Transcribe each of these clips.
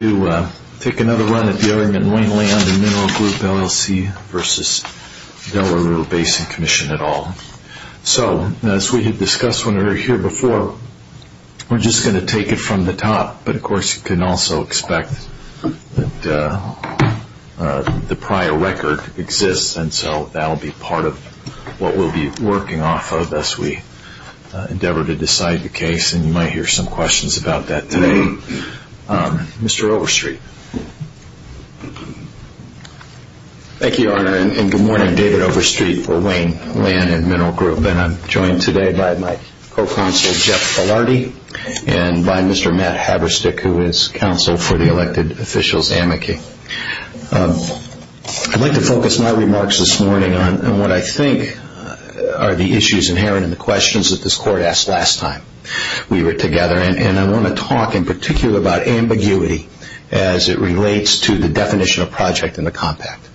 at all. So, as we had discussed when we were here before, we're just going to take it from the top, but of course, you can also expect that the prior record exists, and so that'll be part of what we'll be working off as we endeavor to decide the case, and you might hear some questions about that today. Mr. Overstreet. Thank you, Your Honor, and good morning. David Overstreet for Wayne Land and Mineral Group, and I'm joined today by my co-consultant, Jeff Filardi, and by Mr. Matt Haberstick, who is Counsel for the elected officials at McKay. I'd like to focus my remarks this morning on what I think are the issues inherent in the questions that this Court asked last time. We were together, and I want to talk in particular about ambiguity as it relates to the definition of project in the compact,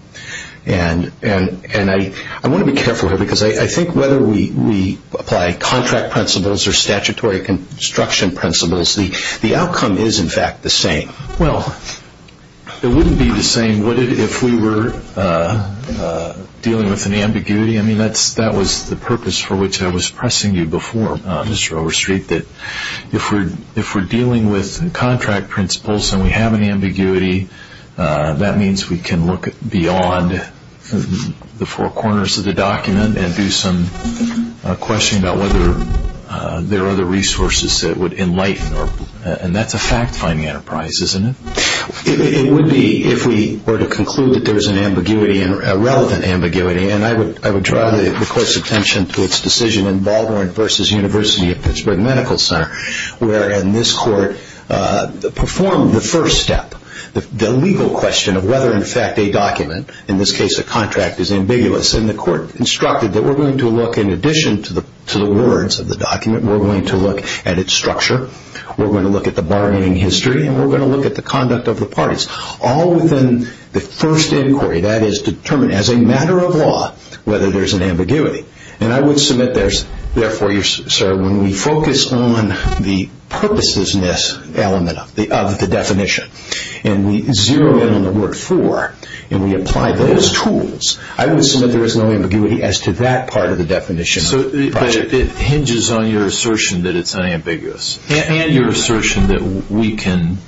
and I want to be careful here because I think whether we apply contract principles or statutory construction principles, the outcome is, in fact, the same. Well, it wouldn't be the same if we were dealing with an ambiguity. I mean, that was the purpose for which I was pressing you before, Mr. Overstreet, that if we're dealing with contract principles and we have an ambiguity, that means we can look beyond the four corners of the document and do some questioning about whether there are other resources that would enlighten, and that's a fact-finding enterprise, isn't it? It would be if we were to conclude that there's an ambiguity, a relevant ambiguity, and I would draw the Court's attention to its decision in Baldwin v. University of Pittsburgh Medical Center where in this Court performed the first step, the legal question of whether in fact a document, in this case a contract, is ambiguous, and the Court instructed that we're going to look in addition to the words of the document, we're going to look at its structure, we're going to look at the bargaining history, and we're going to look at the conduct of the document, whether there's an ambiguity. And I would submit, therefore, sir, when we focus on the purposelessness of the definition, and we zero in on the word for, and we apply those tools, I would submit there is no ambiguity as to that part of the definition of the project. But it hinges on your assertion that it's unambiguous, and your assertion that we can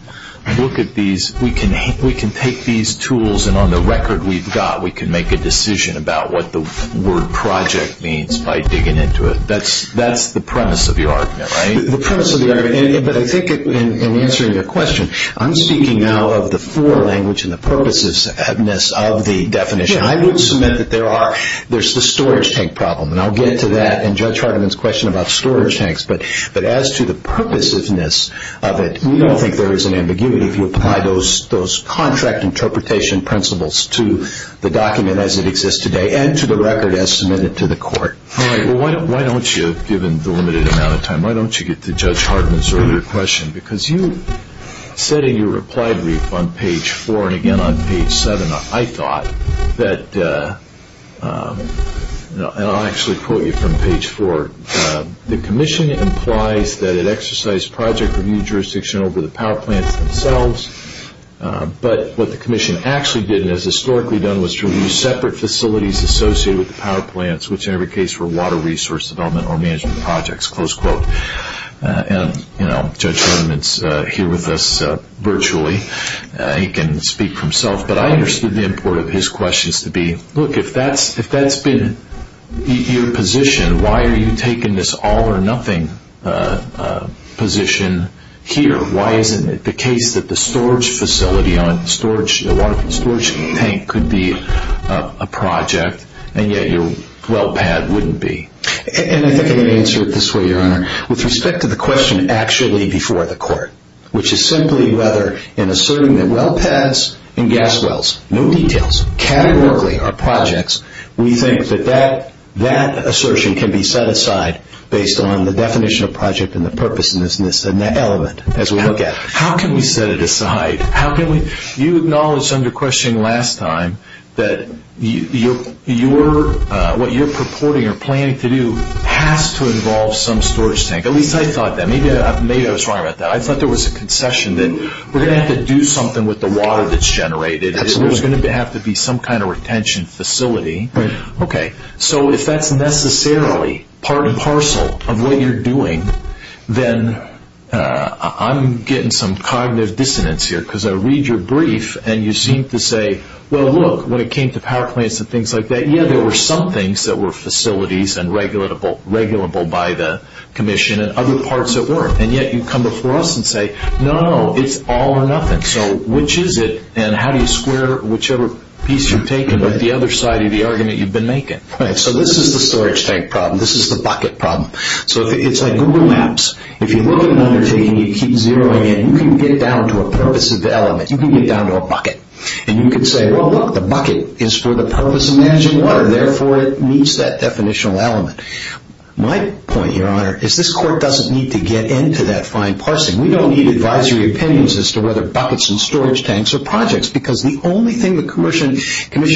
look at these, we can take these tools, and on the record we've got, we can make a decision about what the word project means by digging into it. That's the premise of the argument, right? The premise of the argument, and I think in answering your question, I'm speaking now of the fore language and the purposelessness of the definition. I would submit that there are, there's the storage tank problem, and I'll get to that in Judge Hartiman's question about storage tanks, but as to the purposelessness of it, we don't think there is an ambiguity if you apply those contract interpretation principles to the document as it exists today, and to the record as submitted to the court. All right, well, why don't you, given the limited amount of time, why don't you get to Judge Hartiman's earlier question, because you said in your reply brief on page four, and again on page seven, I thought that, and I'll actually quote you from page four, the commission implies that it exercised project review jurisdiction over the power plants themselves, but what the commission actually did, and has historically done, was to review separate facilities associated with the power plants, which in every case were water resource development or management projects, close quote. And, you know, Judge Hartiman's here with us virtually. He can speak for himself, but I understood the import of his questions to be, look, if that's been your position, why are you taking this all or nothing position here? Why isn't it the case that the storage facility on storage, the water storage tank could be a project, and yet your well pad wouldn't be? And I think I can answer it this way, Your Honor. With respect to the question actually before the court, which is simply whether in asserting that well pads and gas wells, no details, categorically are projects, we think that that assertion can be set aside based on the definition of project and the purpose in this element as we look at it. How can we set it aside? How can we, you acknowledged under questioning last time that what you're purporting or planning to do has to involve some storage tank. At least I thought that. Maybe I was wrong about that. I thought there was a concession that we're going to have to do something with the water that's generated. There's going to have to be some kind of retention facility. Okay. So if that's necessarily part and parcel of what you're doing, then I'm getting some cognitive dissonance here, because I read your brief and you seem to say, well, look, when it came to power plants and things like that, yeah, there were some things that were facilities and regulable by the commission and other parts that weren't, and yet you come before us and say, no, it's all or nothing. So which is it and how do you square whichever piece you're taking by the other side of the argument you've been making? So this is the storage tank problem. This is the bucket problem. So it's like Google Maps. If you really want to keep zeroing in, you can get down to a purpose of the element. You can get down to a bucket and you can say, well, look, the bucket is for the purpose of managing water. Therefore, it meets that definition of element. My point, Your Honor, is this court doesn't need to get into that fine parsing. We don't need advisory opinions as to whether buckets and storage tanks are projects, because the only thing the commission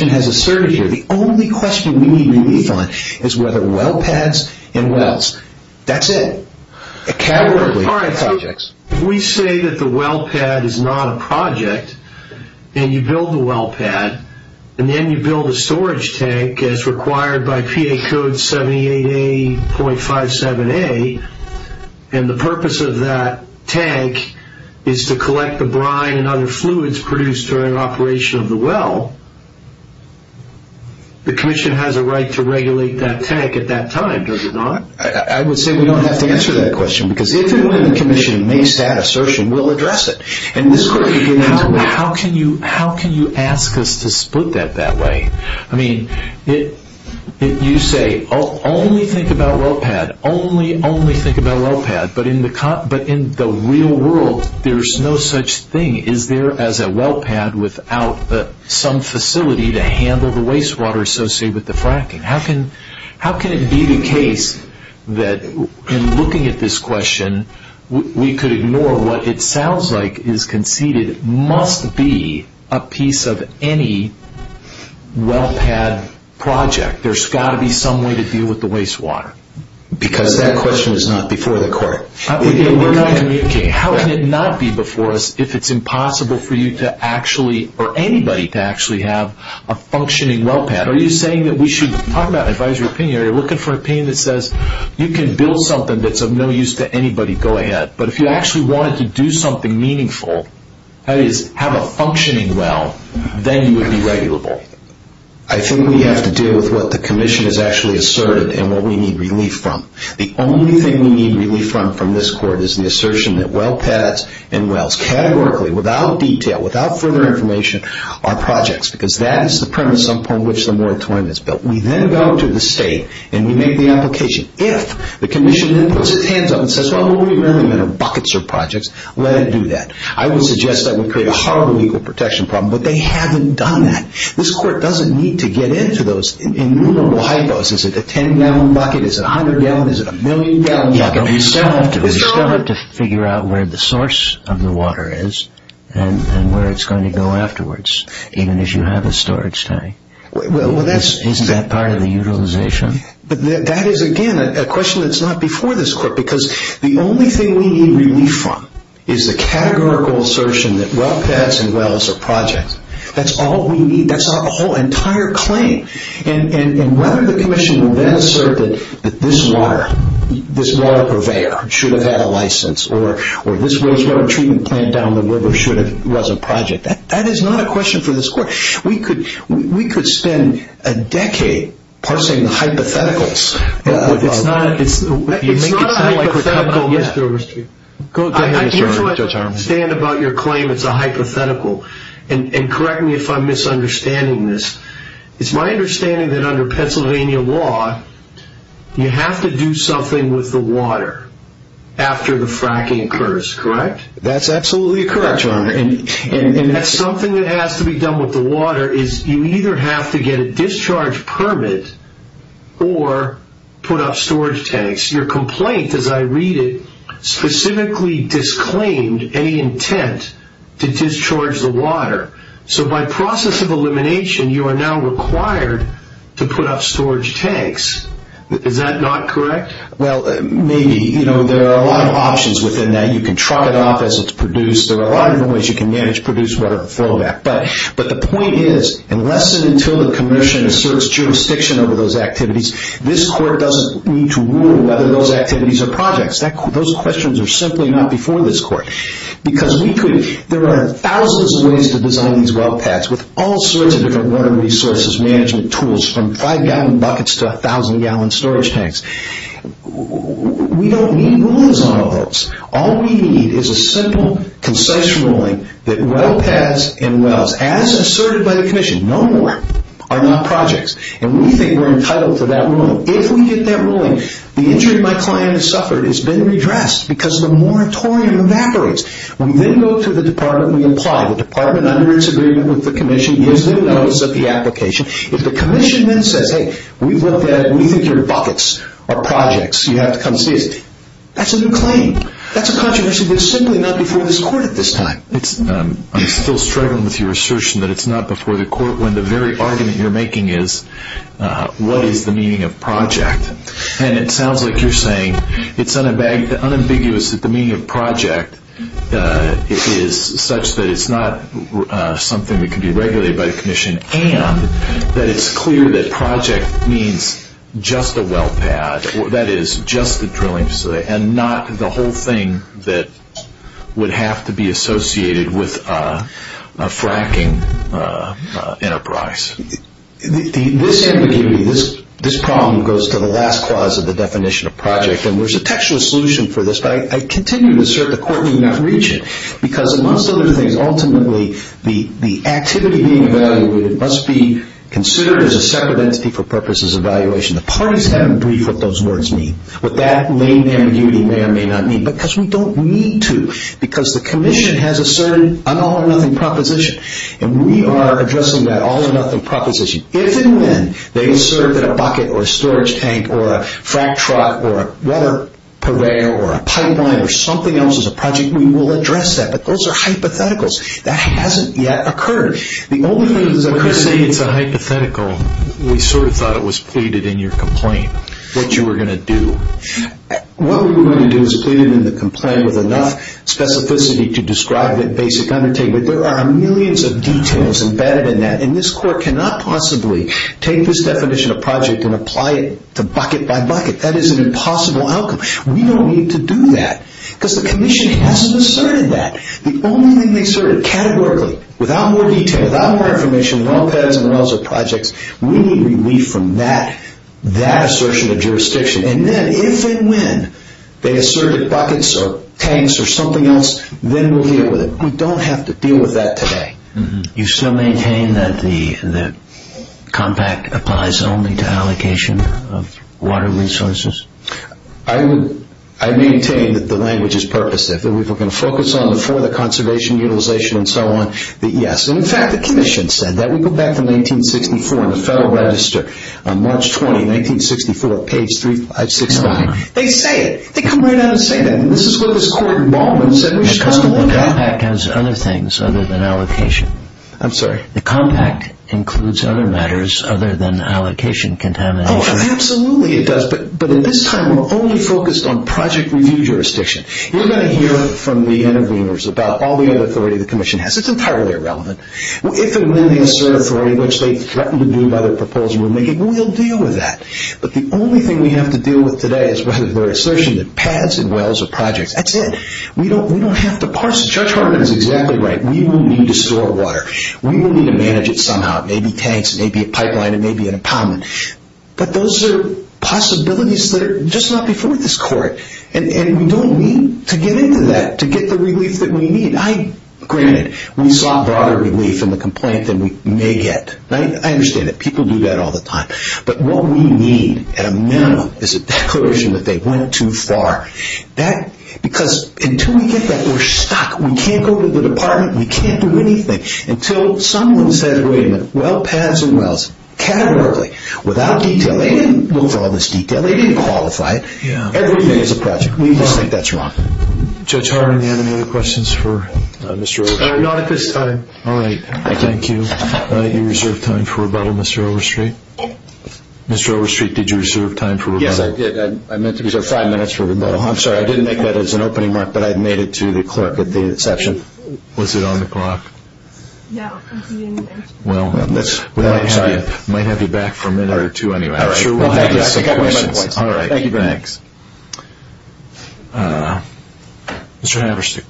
has asserted here, the only question we need to read on is whether well pads and wells, that's it. A category of projects. We say that the well pad is not a project, and you build the well pad, and then you build a storage tank as required by PA code 78A.57A, and the purpose of that tank is to collect the brine and other fluids produced during operation of the well, the commission has a right to regulate that tank at that time, does it not? I would say we don't have to answer that question, because if the commission makes that assertion, we'll address it. And this question is, how can you ask us to split that that way? I mean, you say, only think about well pad, only, only think about well pad, but in the real world, there's no such thing as a well pad without some facility to handle the wastewater associated with the fracking. How can it be the case that in looking at this question, we could ignore what it sounds like is conceded must be a piece of any well pad project? There's got to be some way to deal with the wastewater. Because that question is not before the court. How can it not be before us if it's impossible for you to actually, or anybody to actually have a functioning well pad? Are you saying that we should, talking about advisory opinion, are you looking for an opinion that says you can build something that's of no use to anybody going ahead, but if you actually wanted to do something meaningful, that is, have a functioning well, then you would be regulable? I think we have to deal with what the commission has actually asserted and what we need relief from. The only thing we need relief from from this court is the assertion that well pads and wells categorically, without detail, without further information, are projects, because that's the premise upon which the moratorium is built. We then go to the state, and we make the application. If the commission then puts its hands up and says, oh, well, we remember they're buckets of projects, let it do that. I would suggest that would create a horrible legal protection problem, but they haven't done that. This court doesn't need to get into those in little high doses. Is it a ten-gallon bucket? Is it a hundred-gallon? Is it a million-gallon bucket? We still have to figure out where the source of the water is and where it's going to go afterwards, even as you have a storage tank. Is that part of the utilization? That is, again, a question that's not before this court, because the only thing we need relief from is the categorical assertion that well pads and wells are projects. That's all we need. That's our whole entire claim. And whether the commission will then assert that this water purveyor should have had a license or this wastewater treatment plant down the river should have wasn't a project, that is not a question for this court. We could spend a decade parsing hypotheticals. It's not a hypothetical, Mr. Oresti. I do not understand about your claim it's a hypothetical. And correct me if I'm misunderstanding this. It's my understanding that under Pennsylvania law, you have to do something with the water after the fracking occurs, correct? That's absolutely correct, Your Honor. And that's something that has to be done with the water is you either have to get a discharge permit or put up storage tanks. Your complaint, as I read it, specifically disclaimed any intent to discharge the water. So by process of elimination, you are now required to put up storage tanks. Is that not correct? Well, maybe. There are a lot of options within that. You can chop it off as it's produced. There are a lot of new ways you can manage produced water before that. But the point is, unless and until the commission asserts jurisdiction over those activities, this court doesn't need to rule whether those activities are projects. Those questions are simply not before this court. Because there are thousands of ways to design these well pads with all sorts of different water resources management tools from five-gallon buckets to a thousand-gallon storage tanks. We don't need rules on those. All we need is a simple, concise ruling that well pads and wells, as asserted by the commission, no more, are not projects. And we think we're entitled to that ruling. If we get that ruling, the injury my client has suffered has been redressed because of the moratorium that operates. We then go to the department and we apply. The department, under disagreement with the commission, gives them notice of the application. If the commission then says, hey, we want well pads leading through your buckets are projects, you have to come see us. That's a new claim. That's a contravention that's simply not before this court at this time. I'm still struggling with your assertion that it's not before the court when the very argument you're making is, what is the meaning of project? And it sounds like you're saying it's unambiguous that the meaning of project is such that it's not something that can be regulated by the commission, that it's clear that project means just the well pad, that is, just the drilling facility, and not the whole thing that would have to be associated with a fracking enterprise. This ambiguity, this problem, goes to the last clause of the definition of project. And there's a textual solution for this, but I continue to assert the court may not reach it, because amongst other things, ultimately, the activity being evaluated must be considered as a separate entity for purposes of evaluation. The parties have to agree what those words mean. What that lame ambiguity may or may not mean, because we don't need to. Because the commission has a certain all or nothing proposition, and we are addressing that all or nothing proposition. If and when they assert that a bucket or a storage tank or a frack truck or a weather conveyor or a pipeline or something else is a project, we will address that. But those are hypotheticals. That hasn't yet occurred. The only reason they're saying it's a hypothetical, we sort of thought it was pleaded in your complaint, that you were going to do. What we were going to do is plead it in the complaint with enough specificity to describe it basically. There are millions of details embedded in that, and this court cannot possibly take this definition of project and apply it to bucket by bucket. That is an impossible outcome. We don't need to do that. Because the commission hasn't asserted that. The only reason they assert it categorically, without more detail, without more information, well has and well is a project, we need relief from that assertion of jurisdiction. And then if and when they assert buckets or tanks or something else, when will we deal with it? We don't have to deal with that today. You still maintain that the compact applies only to allocation of water resources? I maintain that the language is purposive. We can focus on the further conservation utilization and so on, but yes. In fact, the commission said that. We go back to 1964 in the Federal Register, March 20, 1964, page 365. They say it. They come right out and say that. The compact has other things other than allocation. I'm sorry? The compact includes other matters other than allocation contamination. Oh, absolutely it does, but at this time we're only focused on project review jurisdiction. You're going to hear from the interviewers about all the authority the commission has. It's entirely irrelevant. If and when they assert authority, which they threaten to do by their proposal, we'll deal with that. But the only thing we have to deal with today is the assertion that pads and wells are projects. That's it. We don't have to parse it. Judge Harkin is exactly right. We will need to store water. We will need to manage it somehow, maybe tanks, maybe a pipeline, and maybe an apartment. But those are possibilities that are just not before this court, and we don't need to get into that to get the relief that we need. Granted, we saw broader relief in the complaint than we may yet. I understand it. People do that all the time. But what we need at a minimum is a declaration that they went too far. Because until we get that, we're stuck. We can't go to the department. We can't do anything. Until someone said, wait a minute, well pads and wells, categorically, without detail, they didn't look at all this detail. They didn't qualify. Everything is a project. We just think that's wrong. Judge Harkin, do you have any other questions for Mr. Overstreet? Not at this time. All right. Thank you. All right. You reserved time for rebuttal, Mr. Overstreet. Mr. Overstreet, did you reserve time for rebuttal? Yes, I did. I meant to reserve five minutes for rebuttal. I'm sorry. I didn't make that as an opening remark, but I made it to the collected data section. Was it on the clock? No. Well, we might have it back for a minute or two anyway. All right. Thank you very much. All right. Thanks. Mr. Haverstick.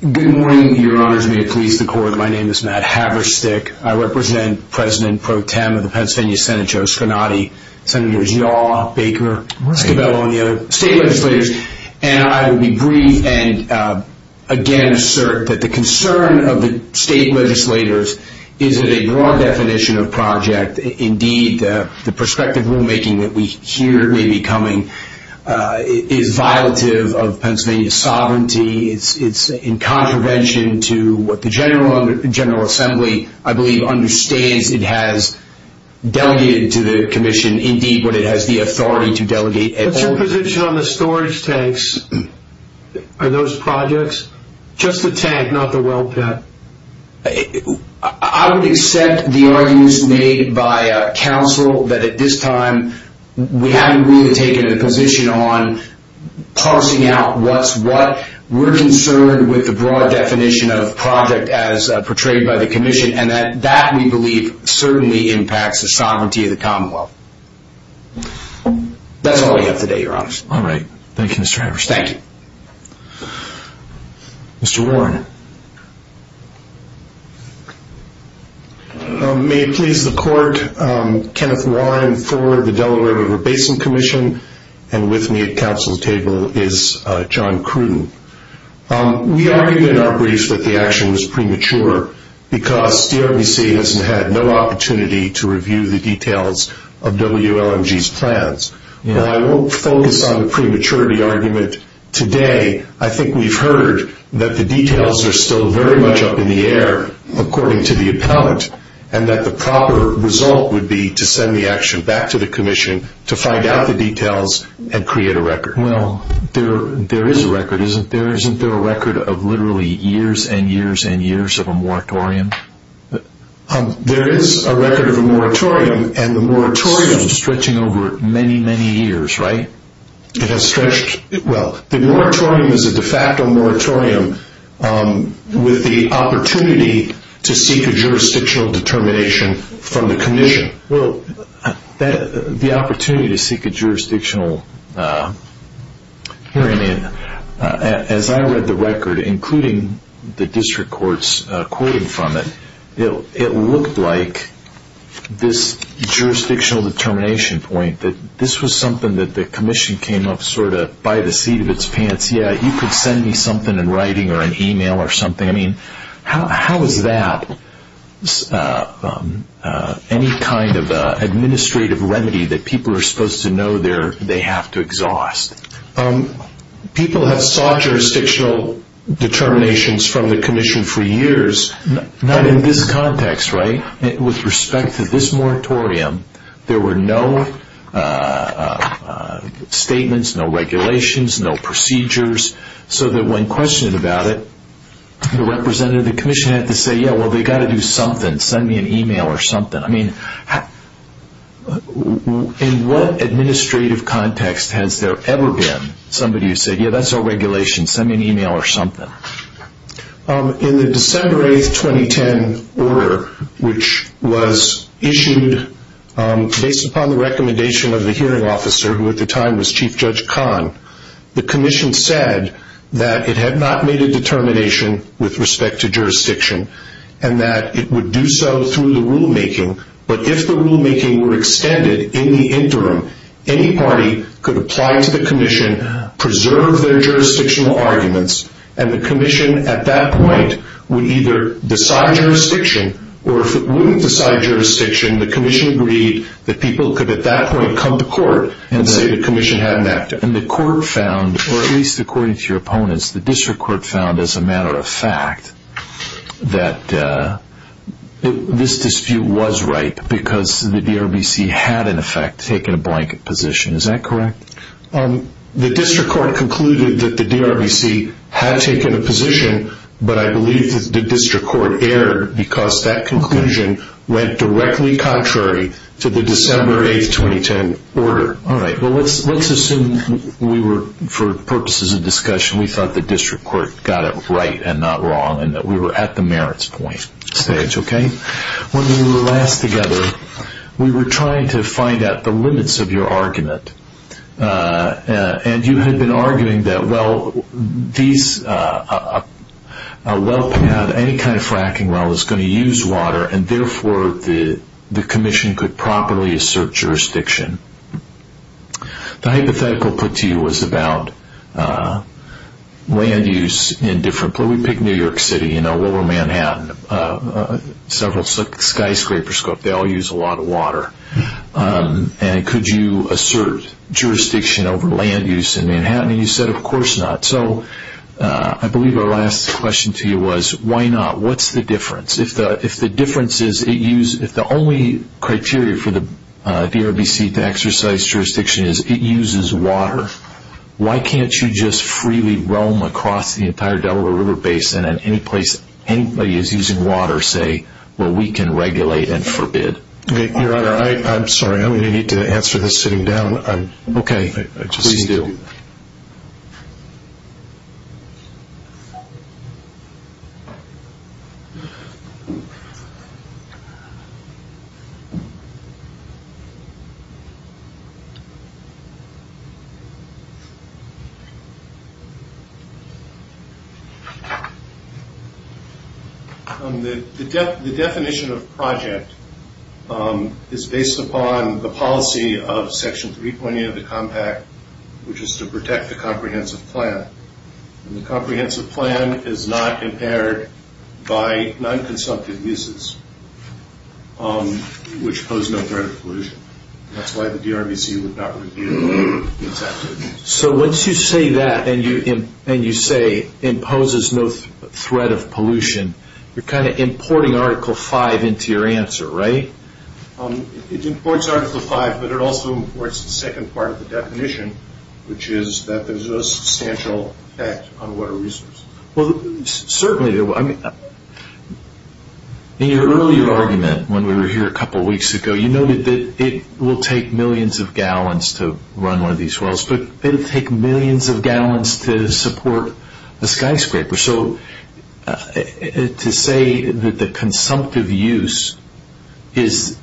Good morning, Your Honors. May it please the Court. My name is Matt Haverstick. I represent President Pro Tem of the Pennsylvania Senate Joe Sconati, Senators Yaw, Baker, Cabello, and the other state legislators, and I would agree and again assert that the concern of the project, indeed the prospective rulemaking that we hear may be coming, is violative of Pennsylvania's sovereignty. It's in contravention to what the General Assembly, I believe, understands it has delegated to the commission indeed what it has the authority to delegate. What's your position on the storage tanks for those projects? Just the tank, not the well cap? I would accept the arguments made by counsel that at this time we haven't really taken a position on parsing out what we're concerned with the broad definition of a project as portrayed by the commission, and that we believe certainly impacts the sovereignty of the Commonwealth. That's all I have today, Your Honors. All right. Thank you, Mr. Haverstick. Thank you. Mr. Warren. May it please the Court, Kenneth Warren, Thor, the Delaware River Basin Commission, and with me at counsel's table is John Crewe. We argued in our brief that the action was premature because CRBC hasn't had no opportunity to review the details of WLMG's plans. While I won't focus on the prematurity argument today, I think we've heard that the details are still very much up in the air according to the account, and that the proper result would be to send the action back to the commission to find out the details and create a record. Well, there is a record. Isn't there a record of literally years and years and years of a moratorium? There is a record of a moratorium, and the moratorium is stretching over many, many years, right? It has stretched. Well, the moratorium is a de facto moratorium with the opportunity to seek a jurisdictional determination from the commission. Well, the opportunity to seek a jurisdictional hearing, as I read the record, including the document, it looked like this jurisdictional determination point, that this was something that the commission came up sort of by the feet of its pants. Yeah, you could send me something in writing or an email or something. I mean, how is that any kind of administrative remedy that people are supposed to know they have to exhaust? People have sought jurisdictional determinations from the commission for years, not in this context, right? With respect to this moratorium, there were no statements, no regulations, no procedures, so that when questioned about it, the representative of the commission had to say, yeah, well, they got to do something. Send me an email or something. I mean, in what administrative context has there ever been somebody who said, yeah, that's our regulation. Send me an email or something. In the December 8th, 2010 order, which was issued based upon the recommendation of the hearing officer, who at the time was Chief Judge Kahn, the commission said that it had not made a determination with respect to jurisdiction and that it would do so through the rulemaking but if the rulemaking were extended in the interim, any party could apply to the commission, preserve their jurisdictional arguments, and the commission at that point would either decide jurisdiction or if it wouldn't decide jurisdiction, the commission agreed that people could at that point come to court and say the commission hadn't acted. And the court found, or at least according to your opponents, the district court found as a matter of fact that this dispute was right because the DRVC had, in effect, taken a blanket position. Is that correct? The district court concluded that the DRVC had taken a position, but I believe the district court erred because that conclusion went directly contrary to the December 8th, 2010 order. All right. Well, let's assume we were, for purposes of discussion, we thought the district court got it right and not wrong and that we were at the merits point stage, okay? When we were last together, we were trying to find out the limits of your argument and you had been arguing that, well, a well can have any kind of fracking well, it's going to use water and, therefore, the commission could properly assert jurisdiction. The hypothetical put to you was about land use in different, well, we picked New York City, you know, what about Manhattan? Several skyscrapers, they all use a lot of water. And could you assert jurisdiction over land use in Manhattan? And you said, of course not. So, I believe our last question to you was, why not? What's the difference? If the difference is, if the only criteria for the DRBC to exercise jurisdiction is it uses water, why can't you just freely roam across the entire Delaware River Basin at any place anybody is using water, say, where we can regulate and forbid? Your Honor, I'm sorry, I'm going to need to answer this sitting down. Okay. Please do. The definition of project is based upon the policy of Section 320 of the Compact, which is to protect the comprehensive plan. And the comprehensive plan is not impaired by non-consumptive uses, which pose no threat of pollution. That's why the DRBC would not review non-consumptive uses. So, once you say that, and you say, imposes no threat of pollution, you're kind of importing Article V into your answer, right? It imports Article V, but it also imports the second part of the definition, which is that there's no substantial effect on water resources. Well, certainly, I mean, in your earlier argument when we were here a couple weeks ago, you noted that it will take millions of gallons to run one of these wells, but it will take millions of gallons to support a skyscraper. So, to say that the consumptive use is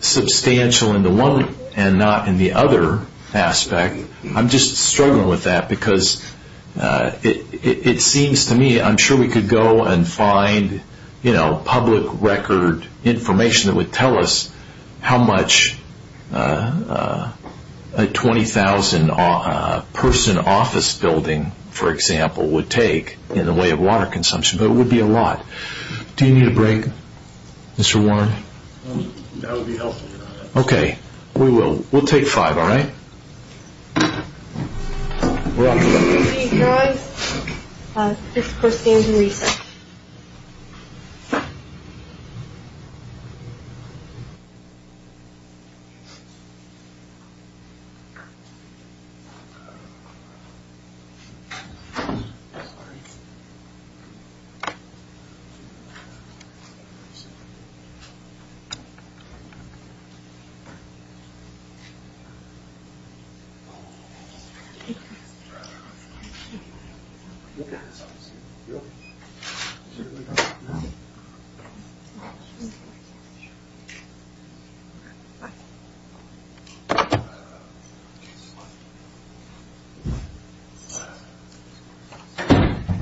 substantial in the one and not in the other aspect, I'm just struggling with that because it seems to me, I'm sure we could go and find public record information that would tell us how much a 20,000 person office building, for example, would take in the way of water consumption, but it would be a lot. Do you need a break, Mr. Warren? That would be helpful. Okay, we will. We'll take five, all right? I'm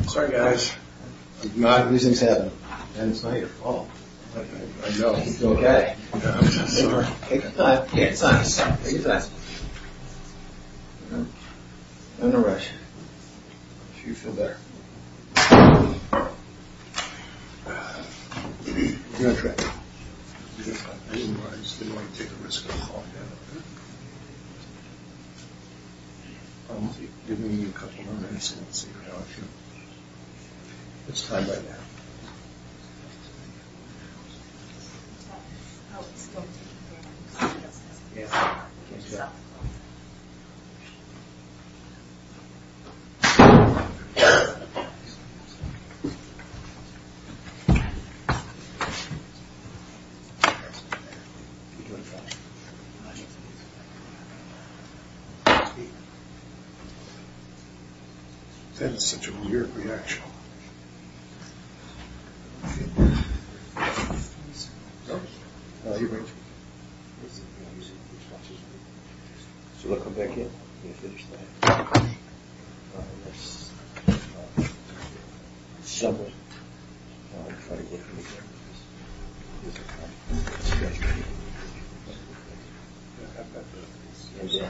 sorry, guys. It's my fault. It's okay. Take a dive, take a dive, take a dive. I'm all right. Do you feel better? Do you want a drink? Do you want to take a risk? Give me a couple of minutes. It's fine right now. Yeah. That's such a weird reaction. It's all right. It's all right. You're great. So, we'll come back in. We'll finish that. Somewhat. I'm sorry. It's all right. It's all right. I'm great. Yeah.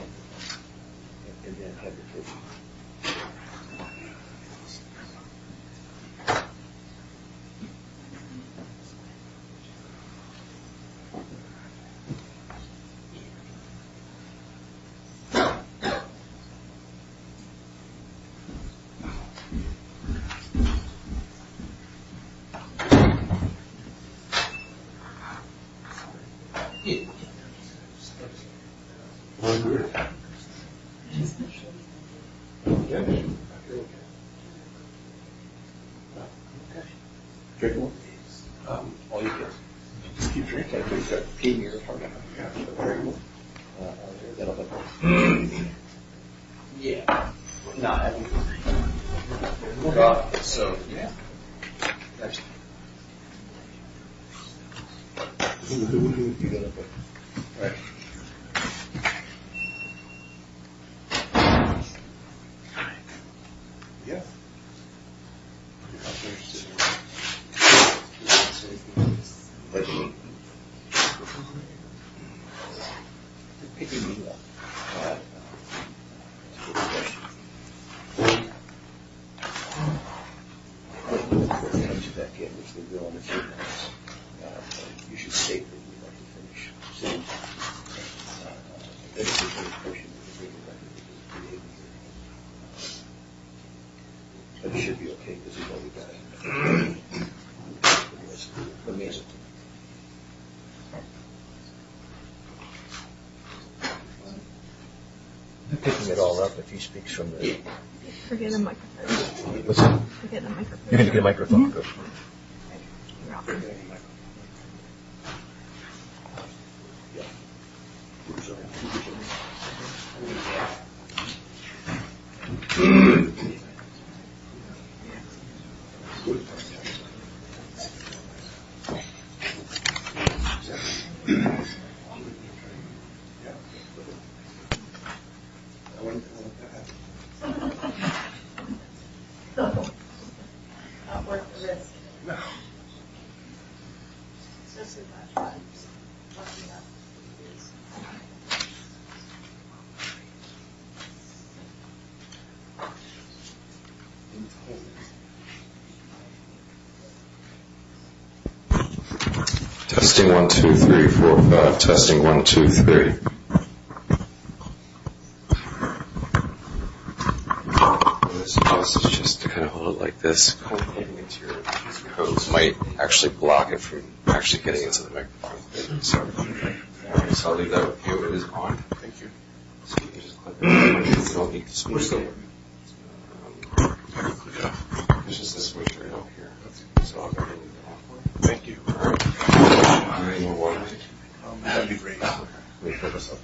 Drink more? I'll use this. Yeah. No, I mean. So, yeah. Thank you. Thank you. Yeah. It's all right. Thank you. Drink more? Yeah. It's all right. It's all right. Drink more? It's all right. I'm picking it all up if he speaks from the... You should get a microphone. What's that? You should get a microphone. You can get a microphone. It's good. I wonder what that is. I'll put it away. No. This is not funny. Shut up. Testing, one, two, three, four. Testing, one, two, three. Just kind of hold it like this. It might actually block it from actually getting into the microphone. I'll leave that on. It is on. Thank you. So you can just click it. You don't need to switch it. Thank you. That would be great. Listen to it. Listen to it. It's a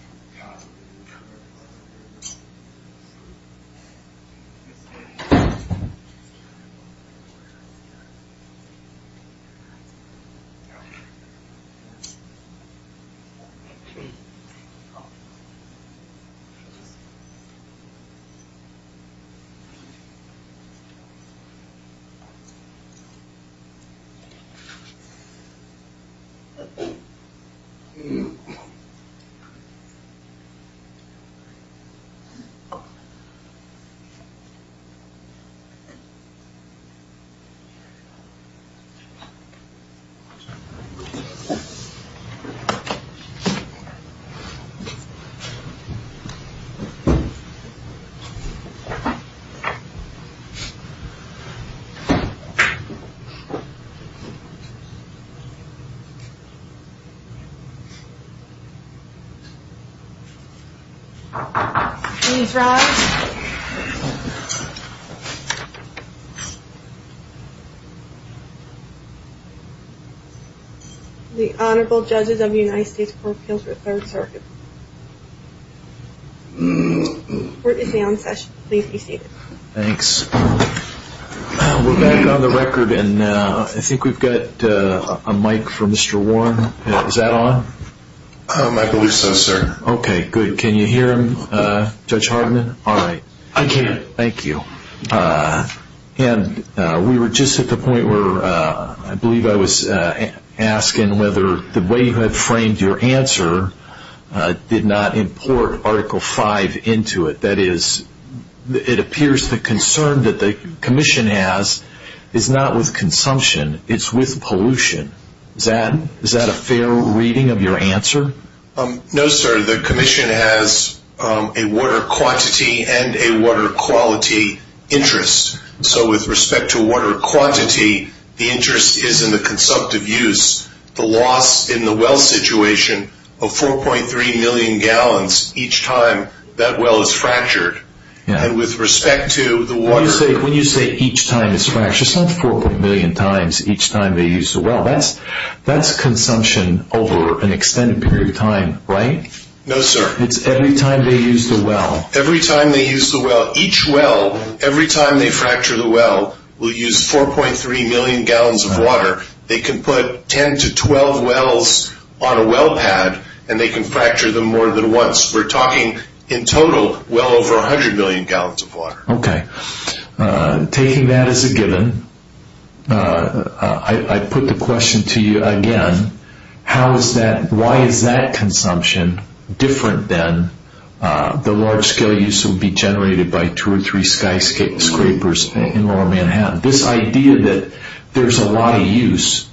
tape recorder. I think I'll just keep it. Sorry if I have a microphone. Sorry. Okay. Okay. Good. That's good. Okay. That was great. Thank you. Thank you. Okay. Thank you. We're back on the record and I think we've got a mic from Mr. Warren. Is that on? I believe so, sir. Okay. Good. Can you hear him, Judge Hardman? All right. I can. Thank you. And we were just at the point where I believe I was asking whether the way you had framed your answer did not import Article V into it. That is, it appears the concern that the commission has is not with consumption. It's with pollution. Is that a fair reading of your answer? No, sir. The commission has a water quantity and a water quality interest. So, with respect to water quantity, the interest is in the consumptive use, the loss in the well situation of 4.3 million gallons each time that well is fractured. And with respect to the water- When you say each time it's fractured, it's not 4.3 million times each time they use the well. That's consumption over an extended period of time, right? No, sir. It's every time they use the well. Every time they use the well. Each well, every time they fracture the well, will use 4.3 million gallons of water. They can put 10 to 12 wells on a well pad, and they can fracture them more than once. We're talking, in total, well over 100 million gallons of water. Okay. Taking that as a given, I put the question to you again, how is that- Why is that consumption different than the large-scale use that would be generated by two or three skyscrapers in rural Manhattan? This idea that there's a lot of use,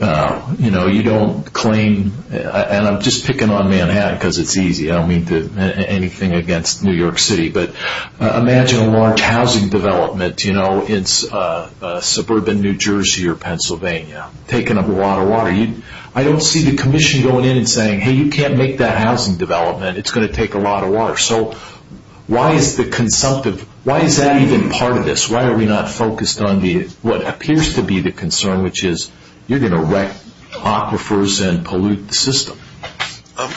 you know, you don't claim- And I'm just picking on Manhattan because it's easy. I don't mean anything against New York City. But imagine a large housing development, you know, in suburban New Jersey or Pennsylvania, taking up a lot of water. I don't see the commission going in and saying, hey, you can't make that housing development. It's going to take a lot of water. So why is that even part of this? Why are we not focused on what appears to be the concern, which is you're going to wreck aquifers and pollute the system?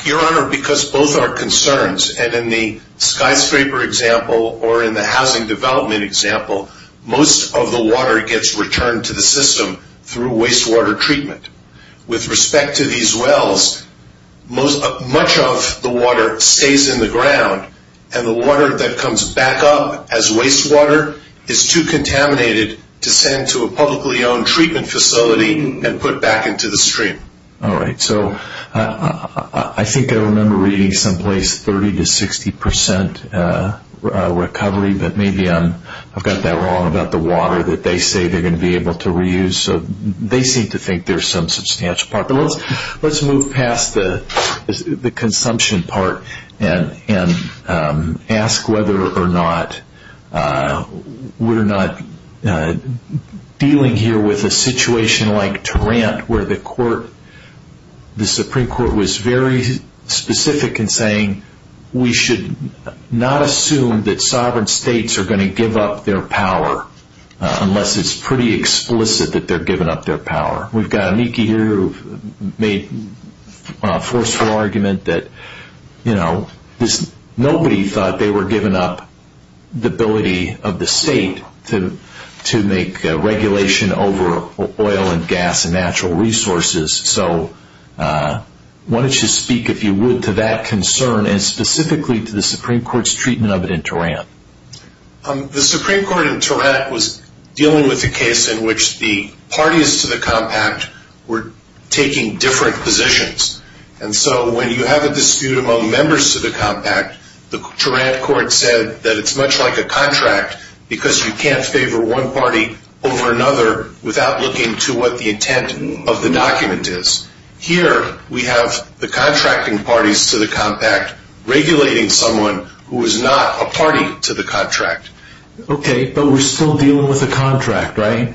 Your Honor, because both are concerns, and in the skyscraper example or in the housing development example, most of the water gets returned to the system through wastewater treatment. With respect to these wells, much of the water stays in the ground, and the water that comes back up as wastewater is too contaminated to send to a publicly owned treatment facility and put back into the stream. All right. So I think I remember reading someplace 30 to 60% recovery, but maybe I've got that wrong about the water that they say they're going to be able to reuse. So they seem to think there's some substantial part. But let's move past the consumption part and ask whether or not we're not dealing here with a situation like Tarant where the Supreme Court was very specific in saying we should not assume that sovereign states are going to give up their power unless it's pretty explicit that they're giving up their power. We've got Miki here who made a forceful argument that nobody thought they were giving up the state to make regulation over oil and gas and natural resources. So why don't you speak, if you would, to that concern and specifically to the Supreme Court's treatment of it in Tarant. The Supreme Court in Tarant was dealing with a case in which the parties to the compact were taking different positions. And so when you have a dispute about members to the compact, the Tarant court said that it's much like a contract because you can't favor one party over another without looking to what the intent of the document is. Here we have the contracting parties to the compact regulating someone who is not a party to the contract. Okay, but we're still dealing with a contract, right?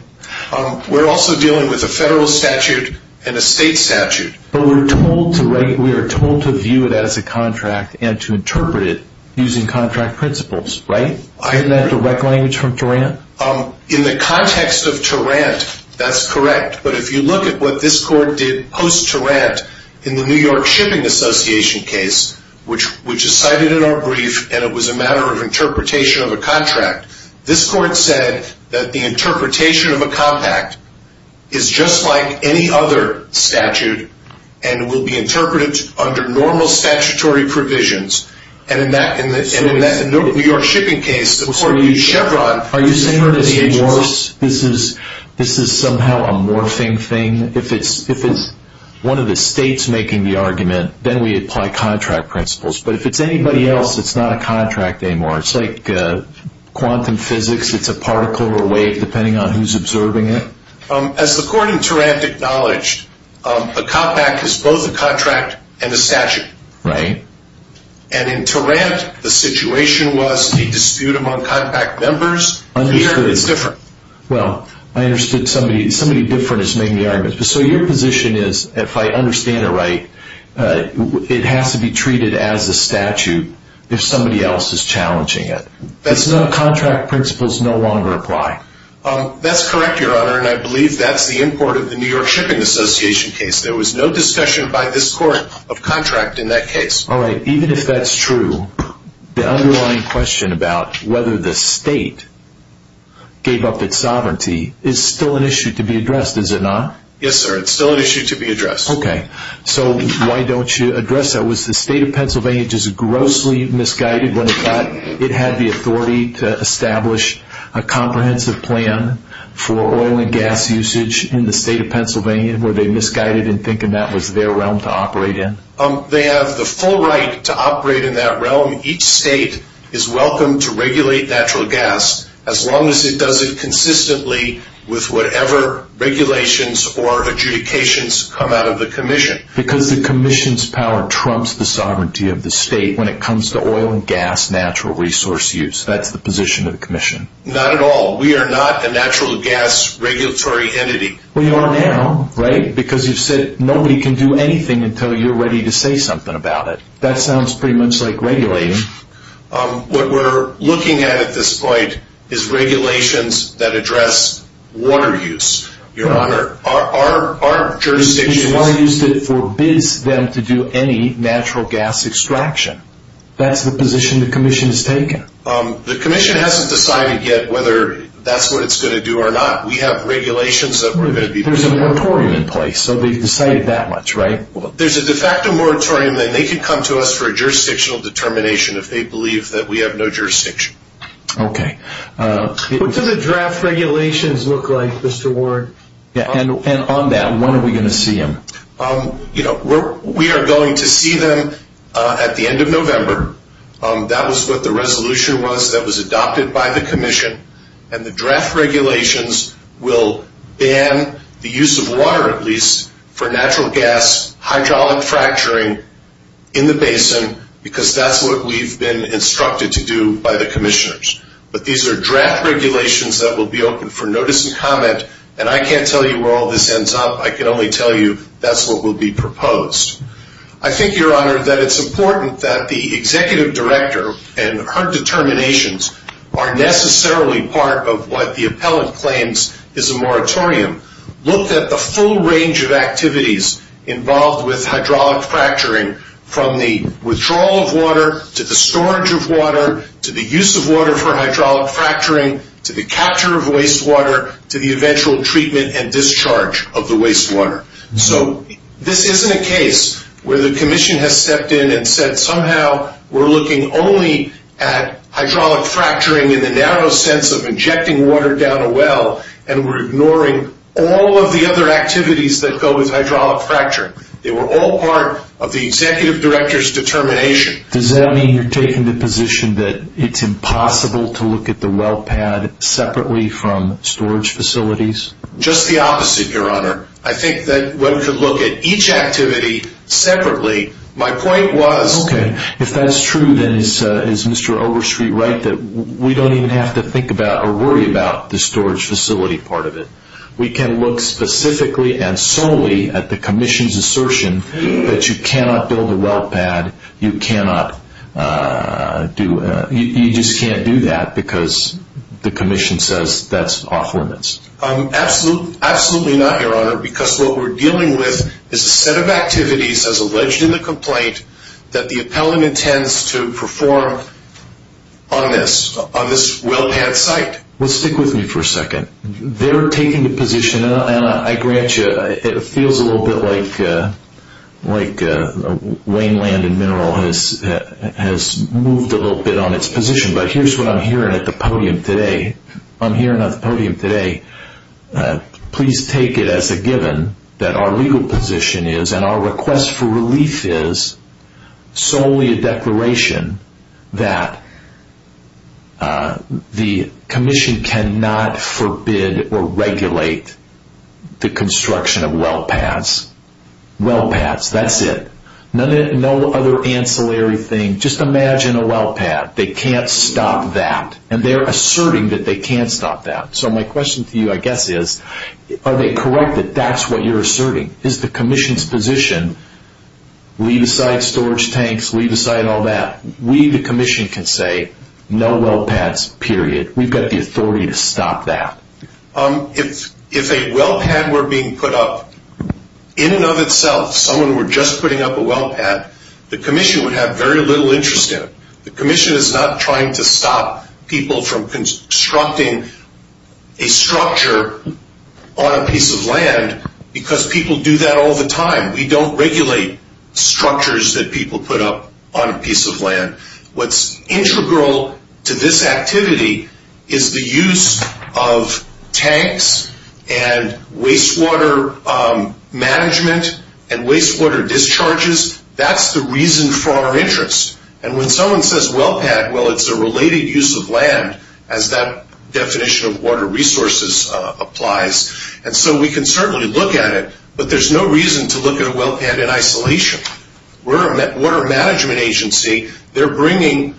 We're also dealing with a federal statute and a state statute. But we're told to view it as a contract and to interpret it using contract principles, right? Isn't that direct language from Tarant? In the context of Tarant, that's correct. But if you look at what this court did post-Tarant in the New York Shipping Association case, which is cited in our brief, and it was a matter of interpretation of a contract, this and will be interpreted under normal statutory provisions. And in that New York shipping case, the court used Chevron. Are you saying that this is somehow a morphing thing? If it's one of the states making the argument, then we apply contract principles. But if it's anybody else, it's not a contract anymore. It's like quantum physics. It's a particle or a wave, depending on who's observing it. As the court in Tarant acknowledged, a compact is both a contract and a statute. Right. And in Tarant, the situation was a dispute among compact members. Well, I understood. Somebody different is making the argument. So your position is, if I understand it right, it has to be treated as a statute if somebody else is challenging it. That's not a contract. Principles no longer apply. That's correct, Your Honor. And I believe that's the import of the New York Shipping Association case. There was no discussion by this court of contract in that case. All right. Even if that's true, the underlying question about whether the state gave up its sovereignty is still an issue to be addressed, is it not? Yes, sir. It's still an issue to be addressed. Okay. So why don't you address that? Was the state of Pennsylvania just grossly misguided when it thought it had the authority to establish a comprehensive plan for oil and gas usage in the state of Pennsylvania? Were they misguided in thinking that was their realm to operate in? They have the full right to operate in that realm. Each state is welcome to regulate natural gas as long as it does it consistently with whatever regulations or adjudications come out of the commission. Because the commission's power trumps the sovereignty of the state when it comes to oil and gas natural resource use. That's the position of the commission. Not at all. We are not a natural gas regulatory entity. We are now, right? Because you've said nobody can do anything until you're ready to say something about it. That sounds pretty much like regulating. What we're looking at at this point is regulations that address water use, Your Honor. Our jurisdiction is that it forbids them to do any natural gas extraction. That's the position the commission has taken. The commission hasn't decided yet whether that's what it's going to do or not. We have regulations that we're going to be putting in place. There's a moratorium in place, so they've decided that much, right? There's a de facto moratorium that they can come to us for a jurisdictional determination if they believe that we have no jurisdiction. Okay. What do the draft regulations look like, Mr. Ward? And on that, when are we going to see them? You know, we are going to see them at the end of November. That was what the resolution was that was adopted by the commission. And the draft regulations will ban the use of water, at least, for natural gas, hydraulic fracturing in the basin, because that's what we've been instructed to do by the commissioners. But these are draft regulations that will be open for notice and comment. And I can't tell you where all this ends up. I can only tell you that's what will be proposed. I think, Your Honor, that it's important that the executive director and her determinations are necessarily part of what the appellant claims is a moratorium. Look at the full range of activities involved with hydraulic fracturing, from the withdrawal of water to the storage of water to the use of water for hydraulic fracturing to the capture of wastewater to the eventual treatment and discharge of the wastewater. So this isn't a case where the commission has stepped in and said, somehow we're looking only at hydraulic fracturing in the narrow sense of injecting water down a well and we're ignoring all of the other activities that go with hydraulic fracturing. They were all part of the executive director's determination. Does that mean you're taking the position that it's impossible to look at the well pad separately from storage facilities? Just the opposite, Your Honor. I think that one could look at each activity separately. My point was... Okay. If that's true, then is Mr. Overstreet right that we don't even have to think about or worry about the storage facility part of it? We can look specifically and solely at the commission's assertion that you cannot build a well pad, you just can't do that because the commission says that's off limits. Absolutely not, Your Honor, because what we're dealing with is a set of activities as alleged in the complaint that the appellant intends to perform on this well pad site. Well, stick with me for a second. They're taking the position, and I grant you it feels a little bit like Wayne Land and Mineral has moved a little bit on its position, but here's what I'm hearing at the podium today. I'm hearing at the podium today, please take it as a given that our legal position is and our request for relief is solely a declaration that the commission cannot forbid or regulate the construction of well pads. Well pads, that's it. No other ancillary thing. Just imagine a well pad. They can't stop that. And they're asserting that they can't stop that. So my question to you, I guess, is are they correct that that's what you're asserting? Is the commission's position leave aside storage tanks, leave aside all that? We, the commission, can say no well pads, period. We've got the authority to stop that. If a well pad were being put up, in and of itself, someone were just putting up a well pad, the commission would have very little interest in it. The commission is not trying to stop people from constructing a structure on a piece of land because people do that all the time. We don't regulate structures that people put up on a piece of land. What's integral to this activity is the use of tanks and wastewater management and wastewater discharges. That's the reason for our interest. And when someone says well pad, well, it's a related use of land, as that definition of water resources applies. And so we can certainly look at it, but there's no reason to look at a well pad in isolation. We're a water management agency. They're bringing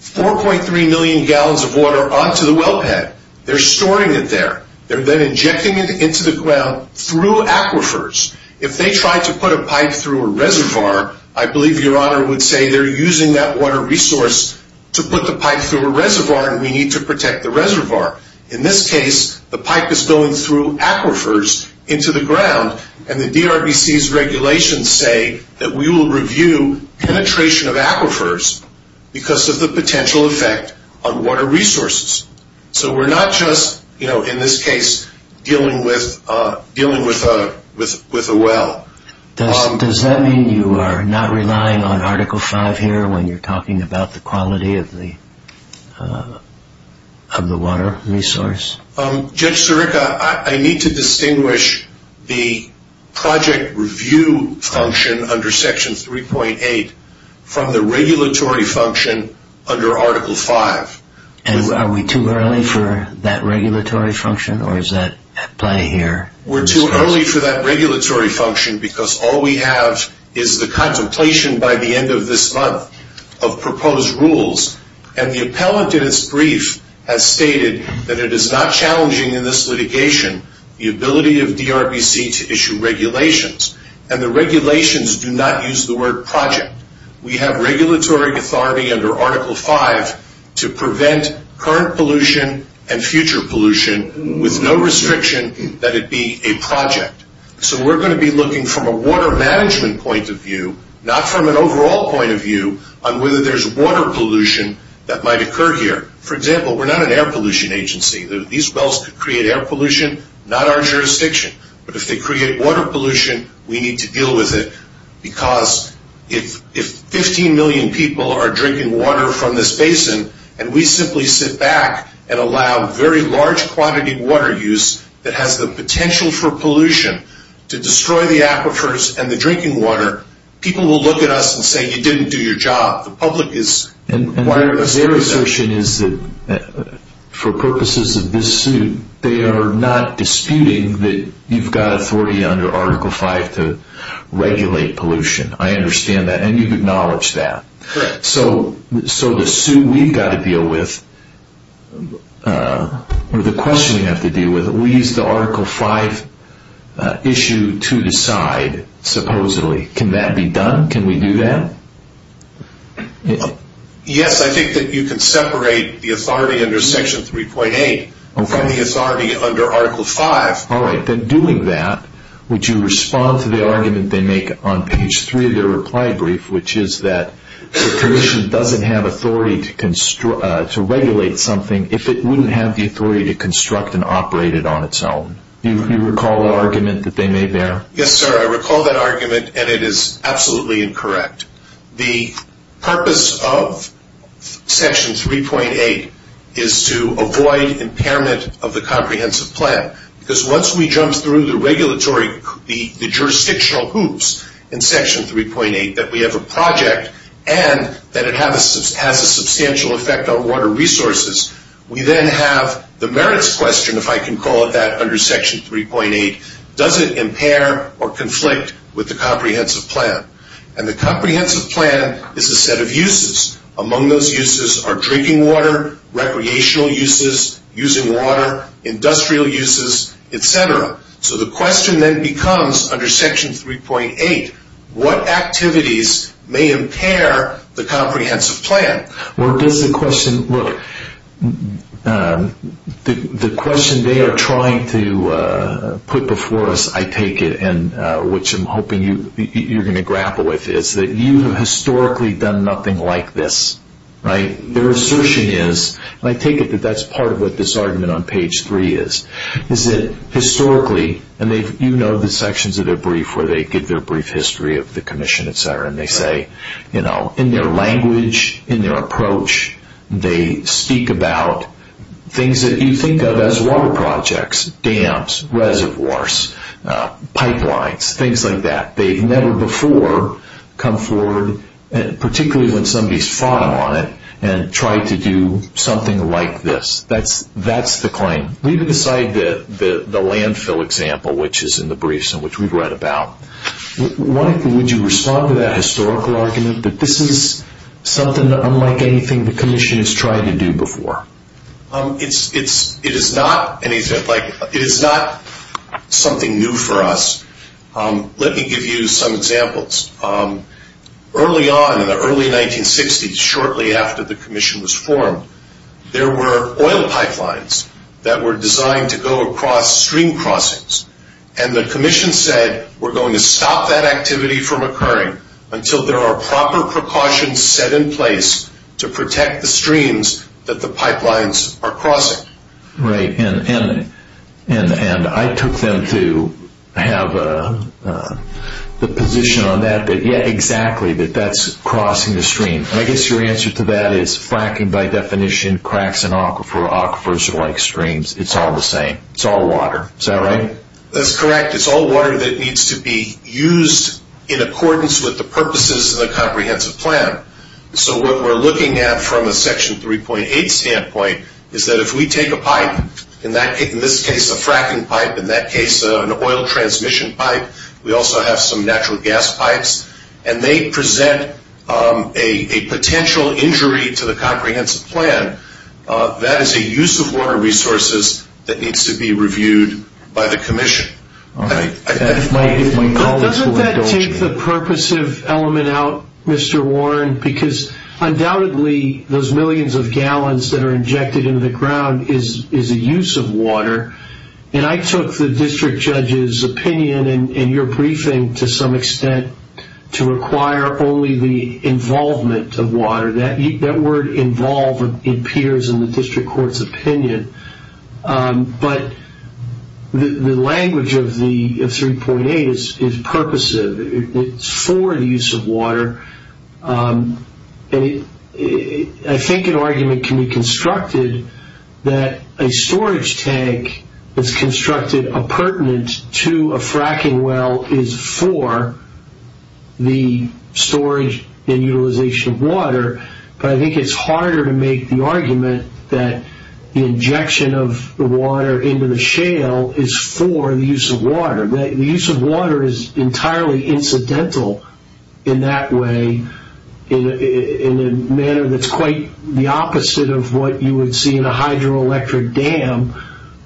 4.3 million gallons of water onto the well pad. They're storing it there. They're then injecting it into the ground through aquifers. If they try to put a pipe through a reservoir, I believe Your Honor would say they're using that water resource to put the pipe through a reservoir, and we need to protect the reservoir. In this case, the pipe is going through aquifers into the ground, and the DRBC's regulations say that we will review penetration of aquifers because of the potential effect on water resources. So we're not just, you know, in this case dealing with a well. Does that mean you are not relying on Article V here when you're talking about the quality of the water resource? Judge Sirica, I need to distinguish the project review function under Section 3.8 from the regulatory function under Article V. And are we too early for that regulatory function, or is that at play here? We're too early for that regulatory function because all we have is the contemplation by the end of this month of proposed rules. And the appellate in its brief has stated that it is not challenging in this litigation the ability of DRBC to issue regulations. And the regulations do not use the word project. We have regulatory authority under Article V to prevent current pollution and future pollution with no restriction that it be a project. So we're going to be looking from a water management point of view, not from an overall point of view on whether there's water pollution that might occur here. For example, we're not an air pollution agency. These wells create air pollution, not our jurisdiction. But if they create water pollution, we need to deal with it because if 15 million people are drinking water from this basin and we simply sit back and allow very large quantity of water use that has the potential for pollution to destroy the aquifers and the drinking water, people will look at us and say you didn't do your job. The public is... And their assertion is that for purposes of this suit, they are not disputing that you've got authority under Article V to regulate pollution. I understand that, and you acknowledge that. Correct. So the suit we've got to deal with, or the question we have to deal with, we use the Article V issue to decide, supposedly. Can that be done? Can we do that? Yes. I think that you can separate the authority under Section 3.8 from the authority under Article V. All right. Then doing that, would you respond to the argument they make on page 3 of their reply brief, which is that the Commission doesn't have authority to regulate something if it wouldn't have the authority to construct and operate it on its own? Do you recall the argument that they made there? Yes, sir. I recall that argument, and it is absolutely incorrect. The purpose of Section 3.8 is to avoid impairment of the comprehensive plan because once we jump through the jurisdictional hoops in Section 3.8, that we have a project and that it has a substantial effect on water resources, we then have the merits question, if I can call it that, under Section 3.8. Does it impair or conflict with the comprehensive plan? The comprehensive plan is a set of uses. Among those uses are drinking water, recreational uses, using water, industrial uses, et cetera. So the question then becomes under Section 3.8, what activities may impair the comprehensive plan? Well, Bill, the question they are trying to put before us, I take it, which I'm hoping you're going to grapple with, is that you have historically done nothing like this. Their assertion is, and I take it that that's part of what this argument on page 3 is, is that historically, and you know the sections of the brief where they give their brief history of the Commission, et cetera, and they say, you know, in their language, in their approach, they speak about things that you think of as water projects, dams, reservoirs, pipelines, things like that. They've never before come forward, particularly when somebody's fought on it, and tried to do something like this. That's the claim. Leave it aside the landfill example, which is in the briefs and which we've read about. Why would you respond to that historical argument that this is something unlike anything the Commission has tried to do before? It is not something new for us. Let me give you some examples. Early on in the early 1960s, shortly after the Commission was formed, there were oil pipelines that were designed to go across stream crossings, and the Commission said, we're going to stop that activity from occurring until there are proper precautions set in place to protect the streams that the pipelines are crossing. Right, and I took them to have the position on that, that yeah, exactly, that that's crossing the stream. I guess your answer to that is fracking by definition, cracks in aquifers are like streams. It's all the same. It's all water. Is that right? That's correct. It's all water that needs to be used in accordance with the purposes of a comprehensive plan. So what we're looking at from a Section 3.8 standpoint is that if we take a pipe, in this case a fracking pipe, in that case an oil transmission pipe, we also have some natural gas pipes, and they present a potential injury to the comprehensive plan, that is a use of water resources that needs to be reviewed by the Commission. All right. Doesn't that take the purposive element out, Mr. Warren, because undoubtedly those millions of gallons that are injected into the ground is a use of water, and I took the district judge's opinion in your briefing to some extent to require only the involvement of water. That word involved appears in the district court's opinion, but the language of 3.8 is purposive. It's for the use of water. I think an argument can be constructed that a storage tank is constructed to a fracking well is for the storage and utilization of water, but I think it's harder to make the argument that the injection of water into the shale is for the use of water. The use of water is entirely incidental in that way, in a manner that's quite the opposite of what you would see in a hydroelectric dam,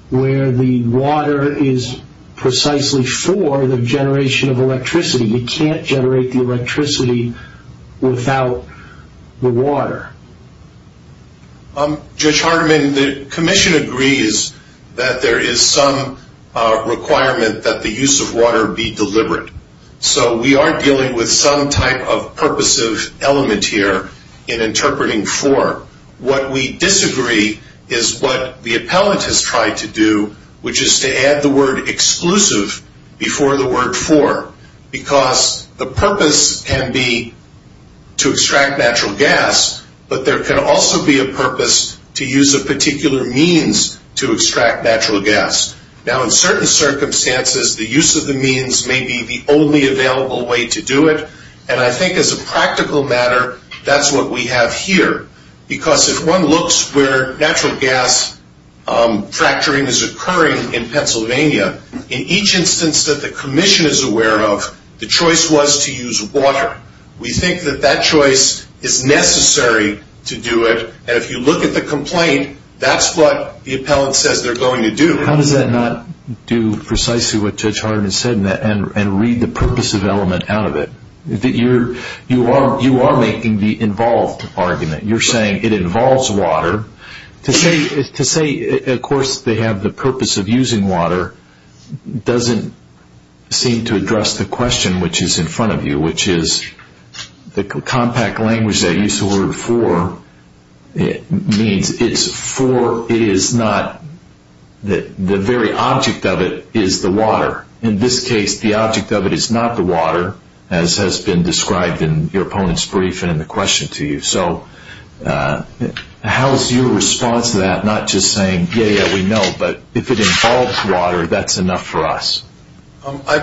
where the water is precisely for the generation of electricity. You can't generate the electricity without the water. Judge Hardiman, the Commission agrees that there is some requirement that the use of water be deliberate, so we are dealing with some type of purposive element here in interpreting for. What we disagree is what the appellant has tried to do, which is to add the word exclusive before the word for, because the purpose can be to extract natural gas, but there can also be a purpose to use a particular means to extract natural gas. Now, in certain circumstances, the use of the means may be the only available way to do it, and I think as a practical matter, that's what we have here, because if one looks where natural gas fracturing is occurring in Pennsylvania, in each instance that the Commission is aware of, the choice was to use water. We think that that choice is necessary to do it, and if you look at the complaint, that's what the appellant says they're going to do. How does that not do precisely what Judge Hardiman said and read the purposive element out of it? You are making the involved argument. You're saying it involves water. To say, of course, they have the purpose of using water doesn't seem to address the question which is in front of you, which is the compact language that you used the word for means it's for, it is not, the very object of it is the water. In this case, the object of it is not the water, as has been described in your opponent's brief and the question to you. So how is your response to that not just saying, yeah, yeah, we know, but if it involves water, that's enough for us?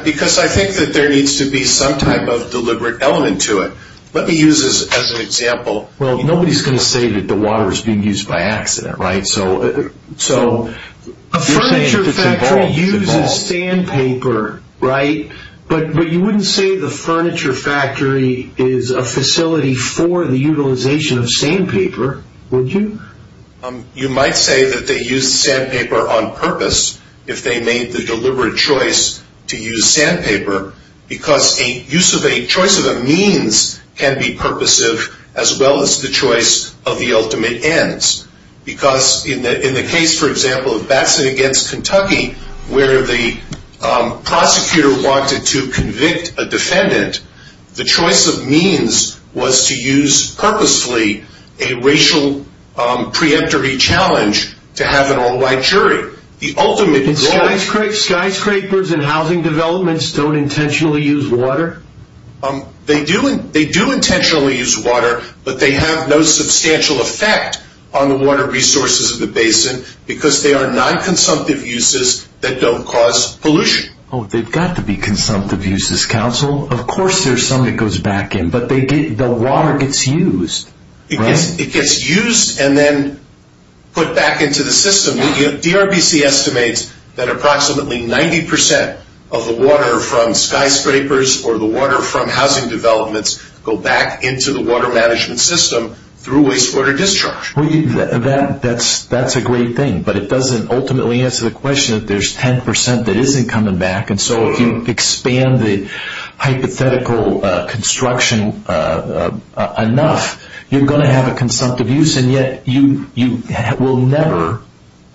Because I think that there needs to be some type of deliberate element to it. Let me use this as an example. Well, nobody's going to say that the water is being used by accident, right? So you're saying it's involved. A furniture factory uses sandpaper, right? But you wouldn't say the furniture factory is a facility for the utilization of sandpaper, would you? You might say that they used sandpaper on purpose, if they made the deliberate choice to use sandpaper, because the use of a choice of a means can be purposive as well as the choice of the ultimate ends. Because in the case, for example, of Baxton against Kentucky, where the prosecutor wanted to convict a defendant, the choice of means was to use, purposely, a racial preemptory challenge to have an all-white jury. The ultimate... And skyscrapers and housing developments don't intentionally use water? They do intentionally use water, but they have no substantial effect on the water resources of the basin, because they are non-consumptive uses that don't cause pollution. Oh, they've got to be consumptive uses, counsel. Of course there's some that goes back in, but the water gets used, right? It gets used and then put back into the system. DRBC estimates that approximately 90% of the water from skyscrapers or the water from housing developments go back into the water management system through wastewater discharge. That's a great thing, but it doesn't ultimately answer the question that there's 10% that isn't coming back, and so if you expand the hypothetical construction enough, you're going to have a consumptive use, and yet you will never,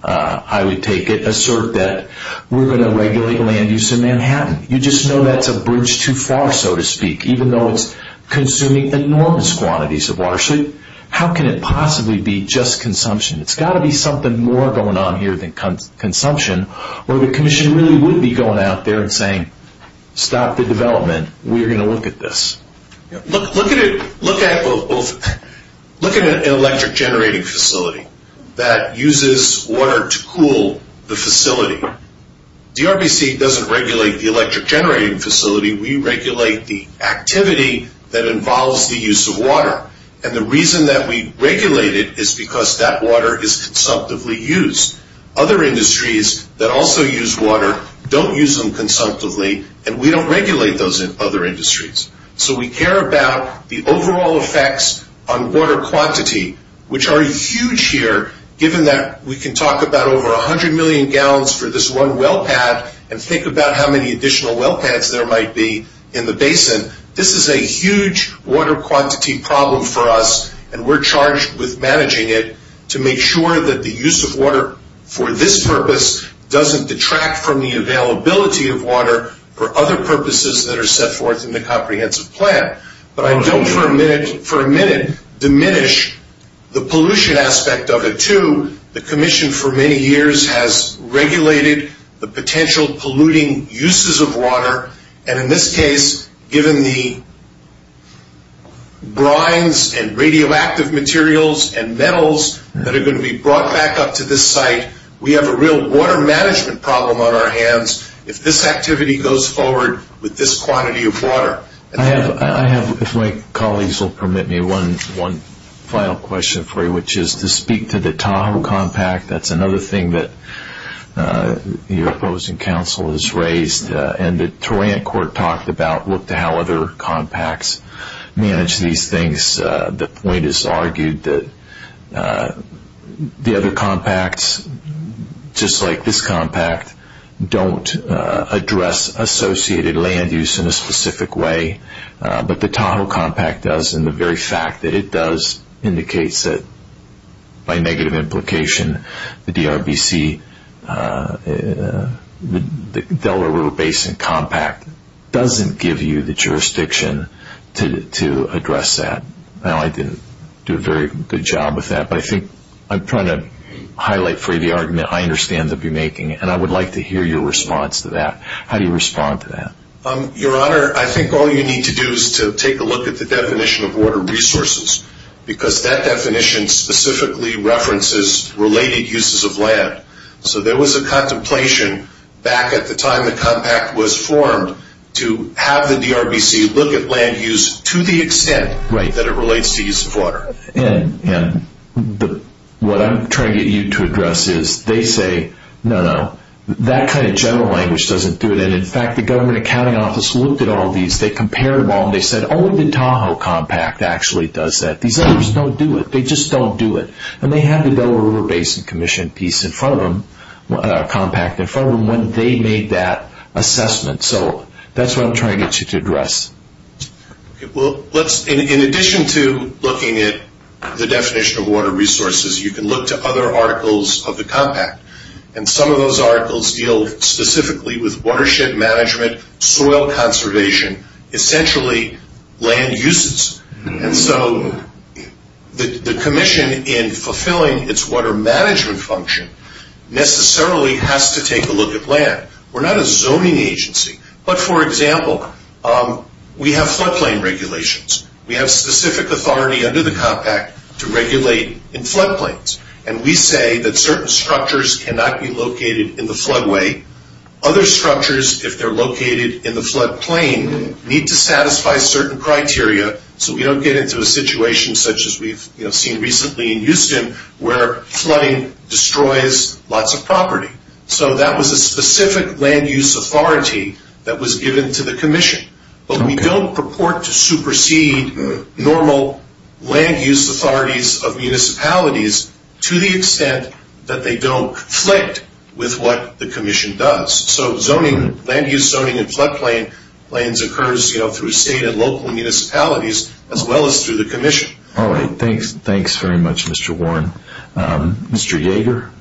I would take it, assert that we're going to regulate land use in Manhattan. You just know that's a bridge too far, so to speak, even though it's consuming enormous quantities of water. So how can it possibly be just consumption? It's got to be something more going on here than consumption, or the commission really would be going out there and saying stop the development. We're going to look at this. Look at an electric generating facility that uses water to cool the facility. DRBC doesn't regulate the electric generating facility. We regulate the activity that involves the use of water, and the reason that we regulate it is because that water is consumptively used. Other industries that also use water don't use them consumptively, and we don't regulate those in other industries. So we care about the overall effects on water quantity, which are huge here, given that we can talk about over 100 million gallons for this one well pad and think about how many additional well pads there might be in the basin. This is a huge water quantity problem for us, and we're charged with managing it to make sure that the use of water for this purpose doesn't detract from the availability of water for other purposes that are set forth in the comprehensive plan. But I don't for a minute diminish the pollution aspect of it too. The commission for many years has regulated the potential polluting uses of water, and in this case, given the brines and radioactive materials and metals that are going to be brought back up to this site, we have a real water management problem on our hands if this activity goes forward with this quantity of water. I have, if my colleagues will permit me, one final question for you, which is to speak to the Tahoe Compact. That's another thing that the opposing council has raised, and the Tarrant Court talked about how other compacts manage these things. The point is argued that the other compacts, just like this compact, don't address associated land use in a specific way, but the Tahoe Compact does, and the very fact that it does indicates that, by negative implication, the DRBC, the Delaware River Basin Compact, doesn't give you the jurisdiction to address that. I know I didn't do a very good job with that, but I think I'm trying to highlight for you the argument I understand that you're making, and I would like to hear your response to that. How do you respond to that? Your Honor, I think all you need to do is to take a look at the definition of water resources, because that definition specifically references related uses of land. So there was a contemplation back at the time the compact was formed to have the DRBC look at land use to the extent that it relates to use of water. And what I'm trying to get you to address is they say, no, no, that kind of general language doesn't do it, and, in fact, the government accounting office looked at all these, they compared them all, and they said, oh, the Tahoe Compact actually does that. These others don't do it. They just don't do it. And they have the Delaware River Basin Commission piece in front of them, compact in front of them, when they made that assessment. So that's what I'm trying to get you to address. Well, in addition to looking at the definition of water resources, you can look to other articles of the compact, and some of those articles deal specifically with watershed management, soil conservation, essentially land uses. And so the commission, in fulfilling its water management function, necessarily has to take a look at land. We're not a zoning agency, but, for example, we have floodplain regulations. We have specific authority under the compact to regulate in floodplains, and we say that certain structures cannot be located in the floodway. Other structures, if they're located in the floodplain, need to satisfy certain criteria so we don't get into a situation such as we've seen recently in Houston where flooding destroys lots of property. So that was a specific land use authority that was given to the commission. But we don't purport to supersede normal land use authorities of municipalities to the extent that they don't conflict with what the commission does. So land use zoning in floodplains occurs through state and local municipalities as well as through the commission. All right. Thanks very much, Mr. Warren. Mr. Yeager?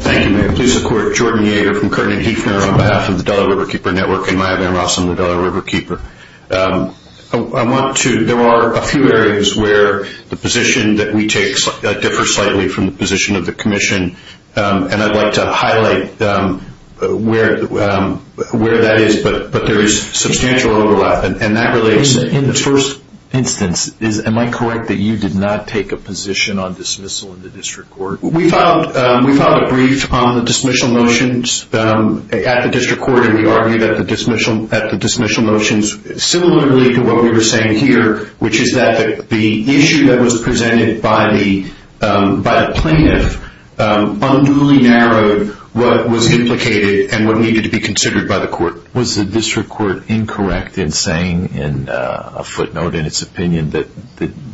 Thank you, Mayor. Please support Jordan Yeager from Carnegie on behalf of the Delaware Riverkeeper Network and my name also is the Delaware Riverkeeper. There are a few areas where the position that we take differs slightly from the position of the commission, and I'd like to highlight where that is. But there is substantial overlap, and that relates to the first instance. Am I correct that you did not take a position on dismissal in the district court? We filed a brief on the dismissal motions at the district court and we argued that the dismissal motions similarly to what we were saying here, which is that the issue that was presented by a plaintiff unruly narrowed what was implicated and what needed to be considered by the court. Was the district court incorrect in saying in a footnote in its opinion that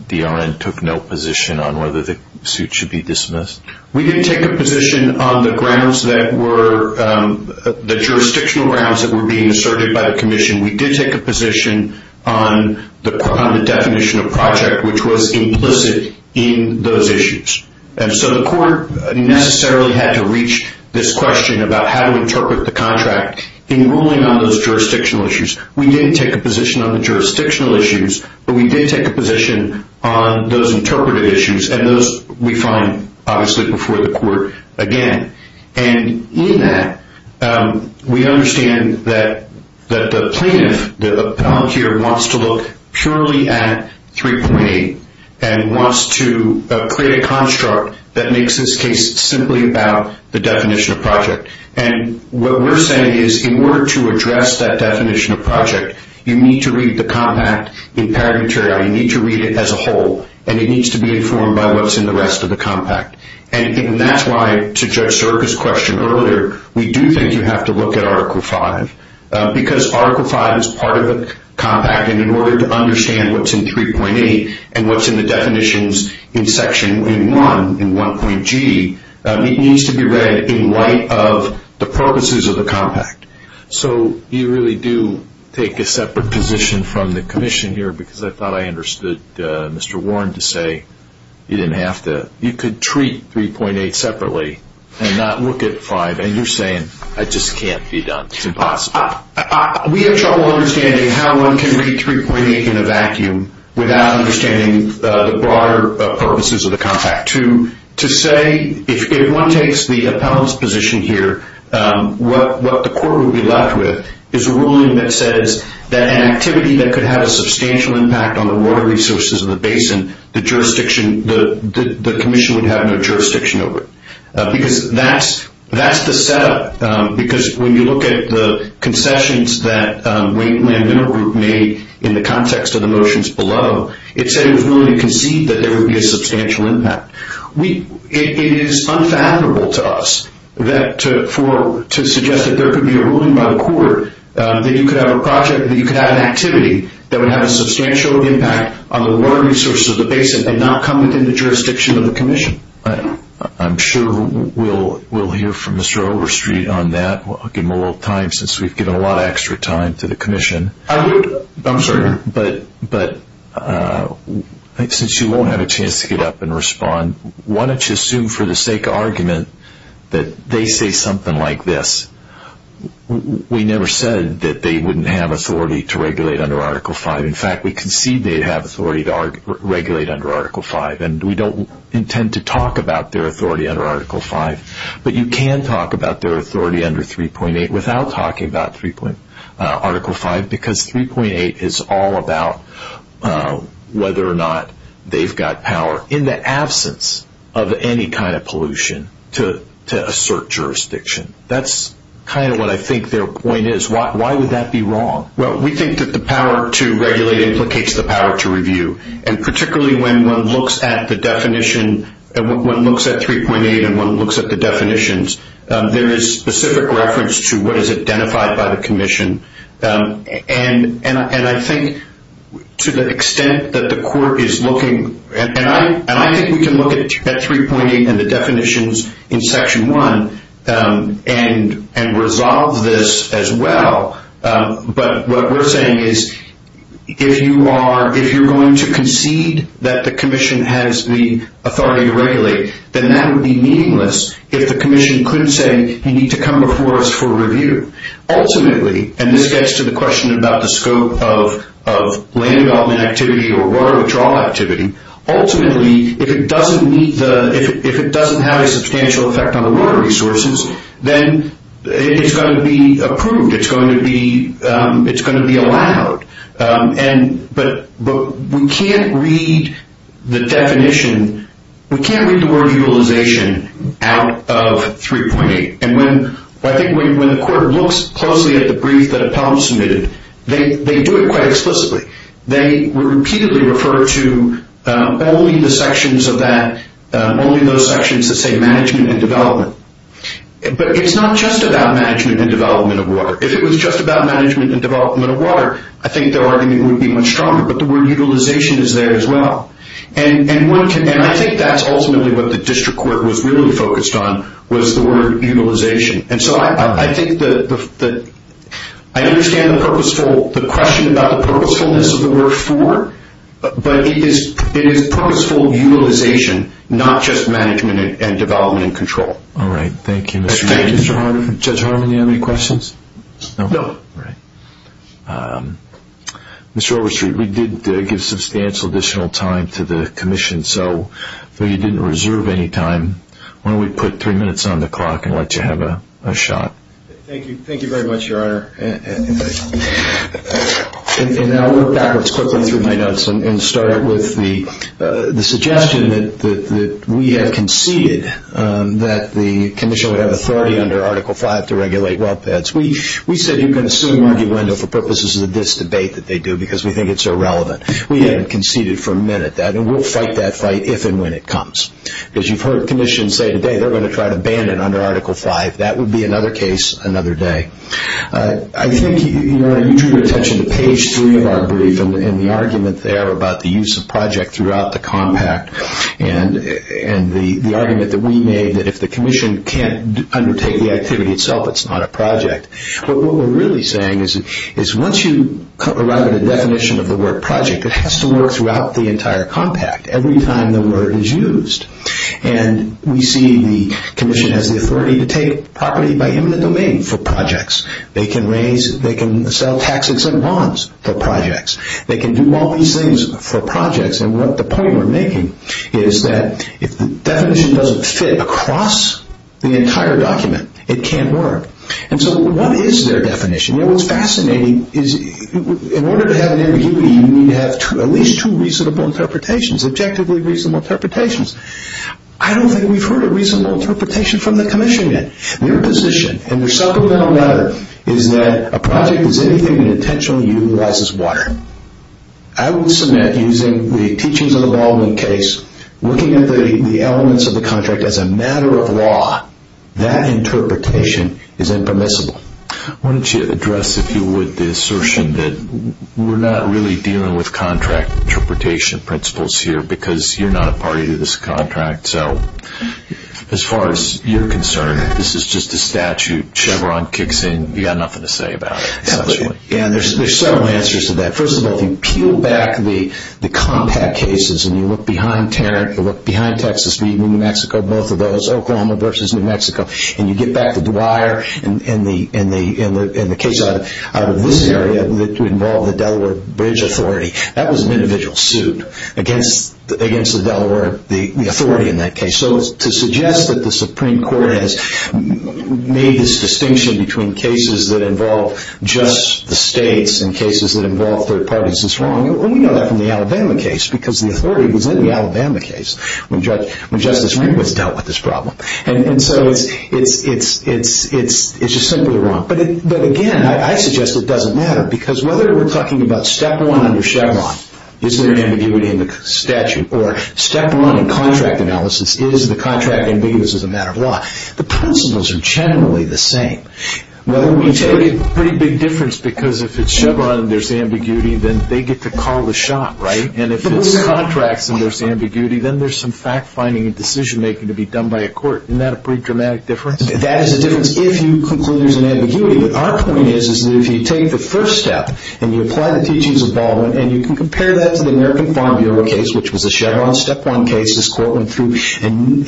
the R.N. took no position on whether the suit should be dismissed? We did take a position on the jurisdictional grounds that were being asserted by the commission. We did take a position on the definition of project, which was implicit in those issues. And so the court necessarily had to reach this question about how to interpret the contract in ruling on those jurisdictional issues. We didn't take a position on the jurisdictional issues, but we did take a position on those interpreted issues, and those we find, obviously, before the court again. And in that, we understand that the plaintiff, the appellate here, wants to look purely at 3.8 and wants to create a construct that makes this case simply about the definition of project. And what we're saying is, in order to address that definition of project, you need to read the compact in pageantry, or you need to read it as a whole, and it needs to be informed by what's in the rest of the compact. And that's why, to address Erika's question earlier, we do think you have to look at Article V, because Article V is part of the compact, and in order to understand what's in 3.8 and what's in the definitions in Section 81 in 1.G, it needs to be read in light of the purposes of the compact. So you really do take a separate position from the commission here, because I thought I understood Mr. Warren to say you didn't have to. You could treat 3.8 separately and not look at 5, and you're saying, I just can't be done. It's impossible. We have trouble understanding how one can treat 3.8 in a vacuum without understanding the broader purposes of the compact. To say, if one takes the appellant's position here, what the court would be left with is a ruling that says that an activity that could have a substantial impact on the water resources of the basin, the commission would have no jurisdiction over it. Because that's the setup. Because when you look at the concessions that Wayne Miller Group made in the context of the motions below, it said he was willing to concede that there would be a substantial impact. It is unfathomable to us to suggest that there could be a ruling by the court, that you could have a project, that you could have an activity, that would have a substantial impact on the water resources of the basin and not come within the jurisdiction of the commission. I'm sure we'll hear from Mr. Overstreet on that. We'll give him a little time, since we've given a lot of extra time to the commission. I'm sorry, but since you won't have a chance to get up and respond, why don't you assume for the sake of argument that they say something like this. We never said that they wouldn't have authority to regulate under Article V. In fact, we concede they'd have authority to regulate under Article V, and we don't intend to talk about their authority under Article V. But you can talk about their authority under 3.8 without talking about Article V, because 3.8 is all about whether or not they've got power, in the absence of any kind of pollution, to assert jurisdiction. That's kind of what I think their point is. Why would that be wrong? Well, we think that the power to regulate implicates the power to review, and particularly when one looks at the definition, and one looks at 3.8 and one looks at the definitions, there is specific reference to what is identified by the commission. And I think to the extent that the court is looking, and I think we can look at 3.8 and the definitions in Section 1, and resolve this as well. But what we're saying is, if you're going to concede that the commission has the authority to regulate, then that would be meaningless if the commission couldn't say, you need to come before us for review. Ultimately, and this gets to the question about the scope of land development activity or water withdrawal activity, ultimately, if it doesn't have a substantial effect on the water resources, then it's going to be approved, it's going to be allowed. But we can't read the definition, we can't read the word utilization out of 3.8. And I think when the court looks closely at a brief that a panel submitted, they do it quite explicitly. They repeatedly refer to only the sections of that, only those sections that say management and development. But it's not just about management and development of water. If it was just about management and development of water, I think the argument would be much stronger, but the word utilization is there as well. And I think that's ultimately what the district court was really focused on, was the word utilization. And so I think that I understand the purposeful, the question about the purposefulness of the word for, but it is purposeful utilization, not just management and development control. All right. Thank you. Judge Harmon, do you have any questions? No. All right. Mr. Overstreet, we did give substantial additional time to the commission, so we didn't reserve any time. Why don't we put three minutes on the clock and let you have a shot. Thank you very much, Your Honor. And I'll go backwards quickly and start with the suggestion that we had conceded that the commission would have authority under Article V to regulate well pads. We said you can assume the window for purposes of this debate that they do because we think it's irrelevant. We haven't conceded for a minute that we'll fight that fight if and when it comes. Because you've heard commissions say today they're going to try to ban it under Article V. That would be another case another day. I think, Your Honor, you drew attention to page three of our brief and the argument there about the use of project throughout the compact and the argument that we made that if the commission can't undertake the activity itself, it's not a project. But what we're really saying is once you arrive at the definition of the word project, it has to work throughout the entire compact every time the word is used. And we see the commission has the authority to take property by human domain for projects. They can sell taxes and bonds for projects. They can do all these things for projects. And what the point we're making is that if the definition doesn't fit across the entire document, it can't work. And so what is their definition? You know, what's fascinating is in order to have near-duty, you need to have at least two reasonable interpretations, objectively reasonable interpretations. I don't think we've heard a reasonable interpretation from the commission yet. Your position in the supplemental matter is that a project is anything that intentionally utilizes water. I would assume that using the teachings of the Baldwin case, looking at the elements of the contract as a matter of law, that interpretation is impermissible. Why don't you address, if you would, the assertion that we're not really dealing with contract interpretation principles here because you're not a party to this contract. As far as you're concerned, this is just a statute. Chevron kicks in. You've got nothing to say about it. There are several answers to that. First of all, if you peel back the compact cases and you look behind Tarrant, you look behind Texas meeting in New Mexico, both of those, Oklahoma versus New Mexico, and you get back to Dwyer and the case out of this area involving the Delaware Bridge Authority, that was an individual suit against the Delaware, the authority in that case. So to suggest that the Supreme Court has made this distinction between cases that involve just the states and cases that involve third parties is wrong. We know that from the Alabama case because the authority was in the Alabama case when Justice Rehnquist dealt with this problem. And so it's just simply wrong. But, again, I suggest it doesn't matter because whether we're talking about step one under Chevron, is there ambiguity in the statute? Or step one in contract analysis, is the contract ambiguous as a matter of law? The principles are generally the same. There's a pretty big difference because if it's Chevron and there's ambiguity, then they get to call the shot, right? And if it's contracts and there's ambiguity, then there's some fact-finding and decision-making to be done by a court. Isn't that a pretty dramatic difference? That is a difference if you conclude there's an ambiguity. But our point is that if you take the first step and you apply the teachings of Baldwin and you can compare that to the American Farm Bureau case, which was the Chevron step one case, this Courtland case, and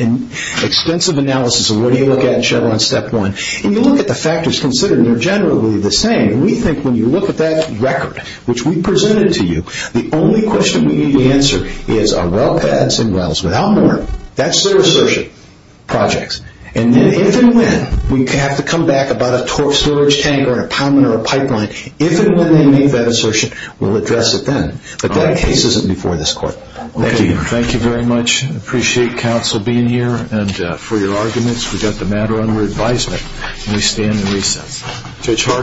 extensive analysis of what do you look at in Chevron step one, and you look at the factors considered, they're generally the same. We think when you look at that record, which we presented to you, the only question we need to answer is are well patents and wells without more? That's their assertion. Projects. And if and when we have to come back about a slurge tank or a tunnel or a pipeline, if and when we meet that assertion, we'll address it then. But that case isn't before this Court. Thank you. Thank you very much. Appreciate counsel being here and for your arguments. We've got the matter under advisement, and we stand with Judge Harden.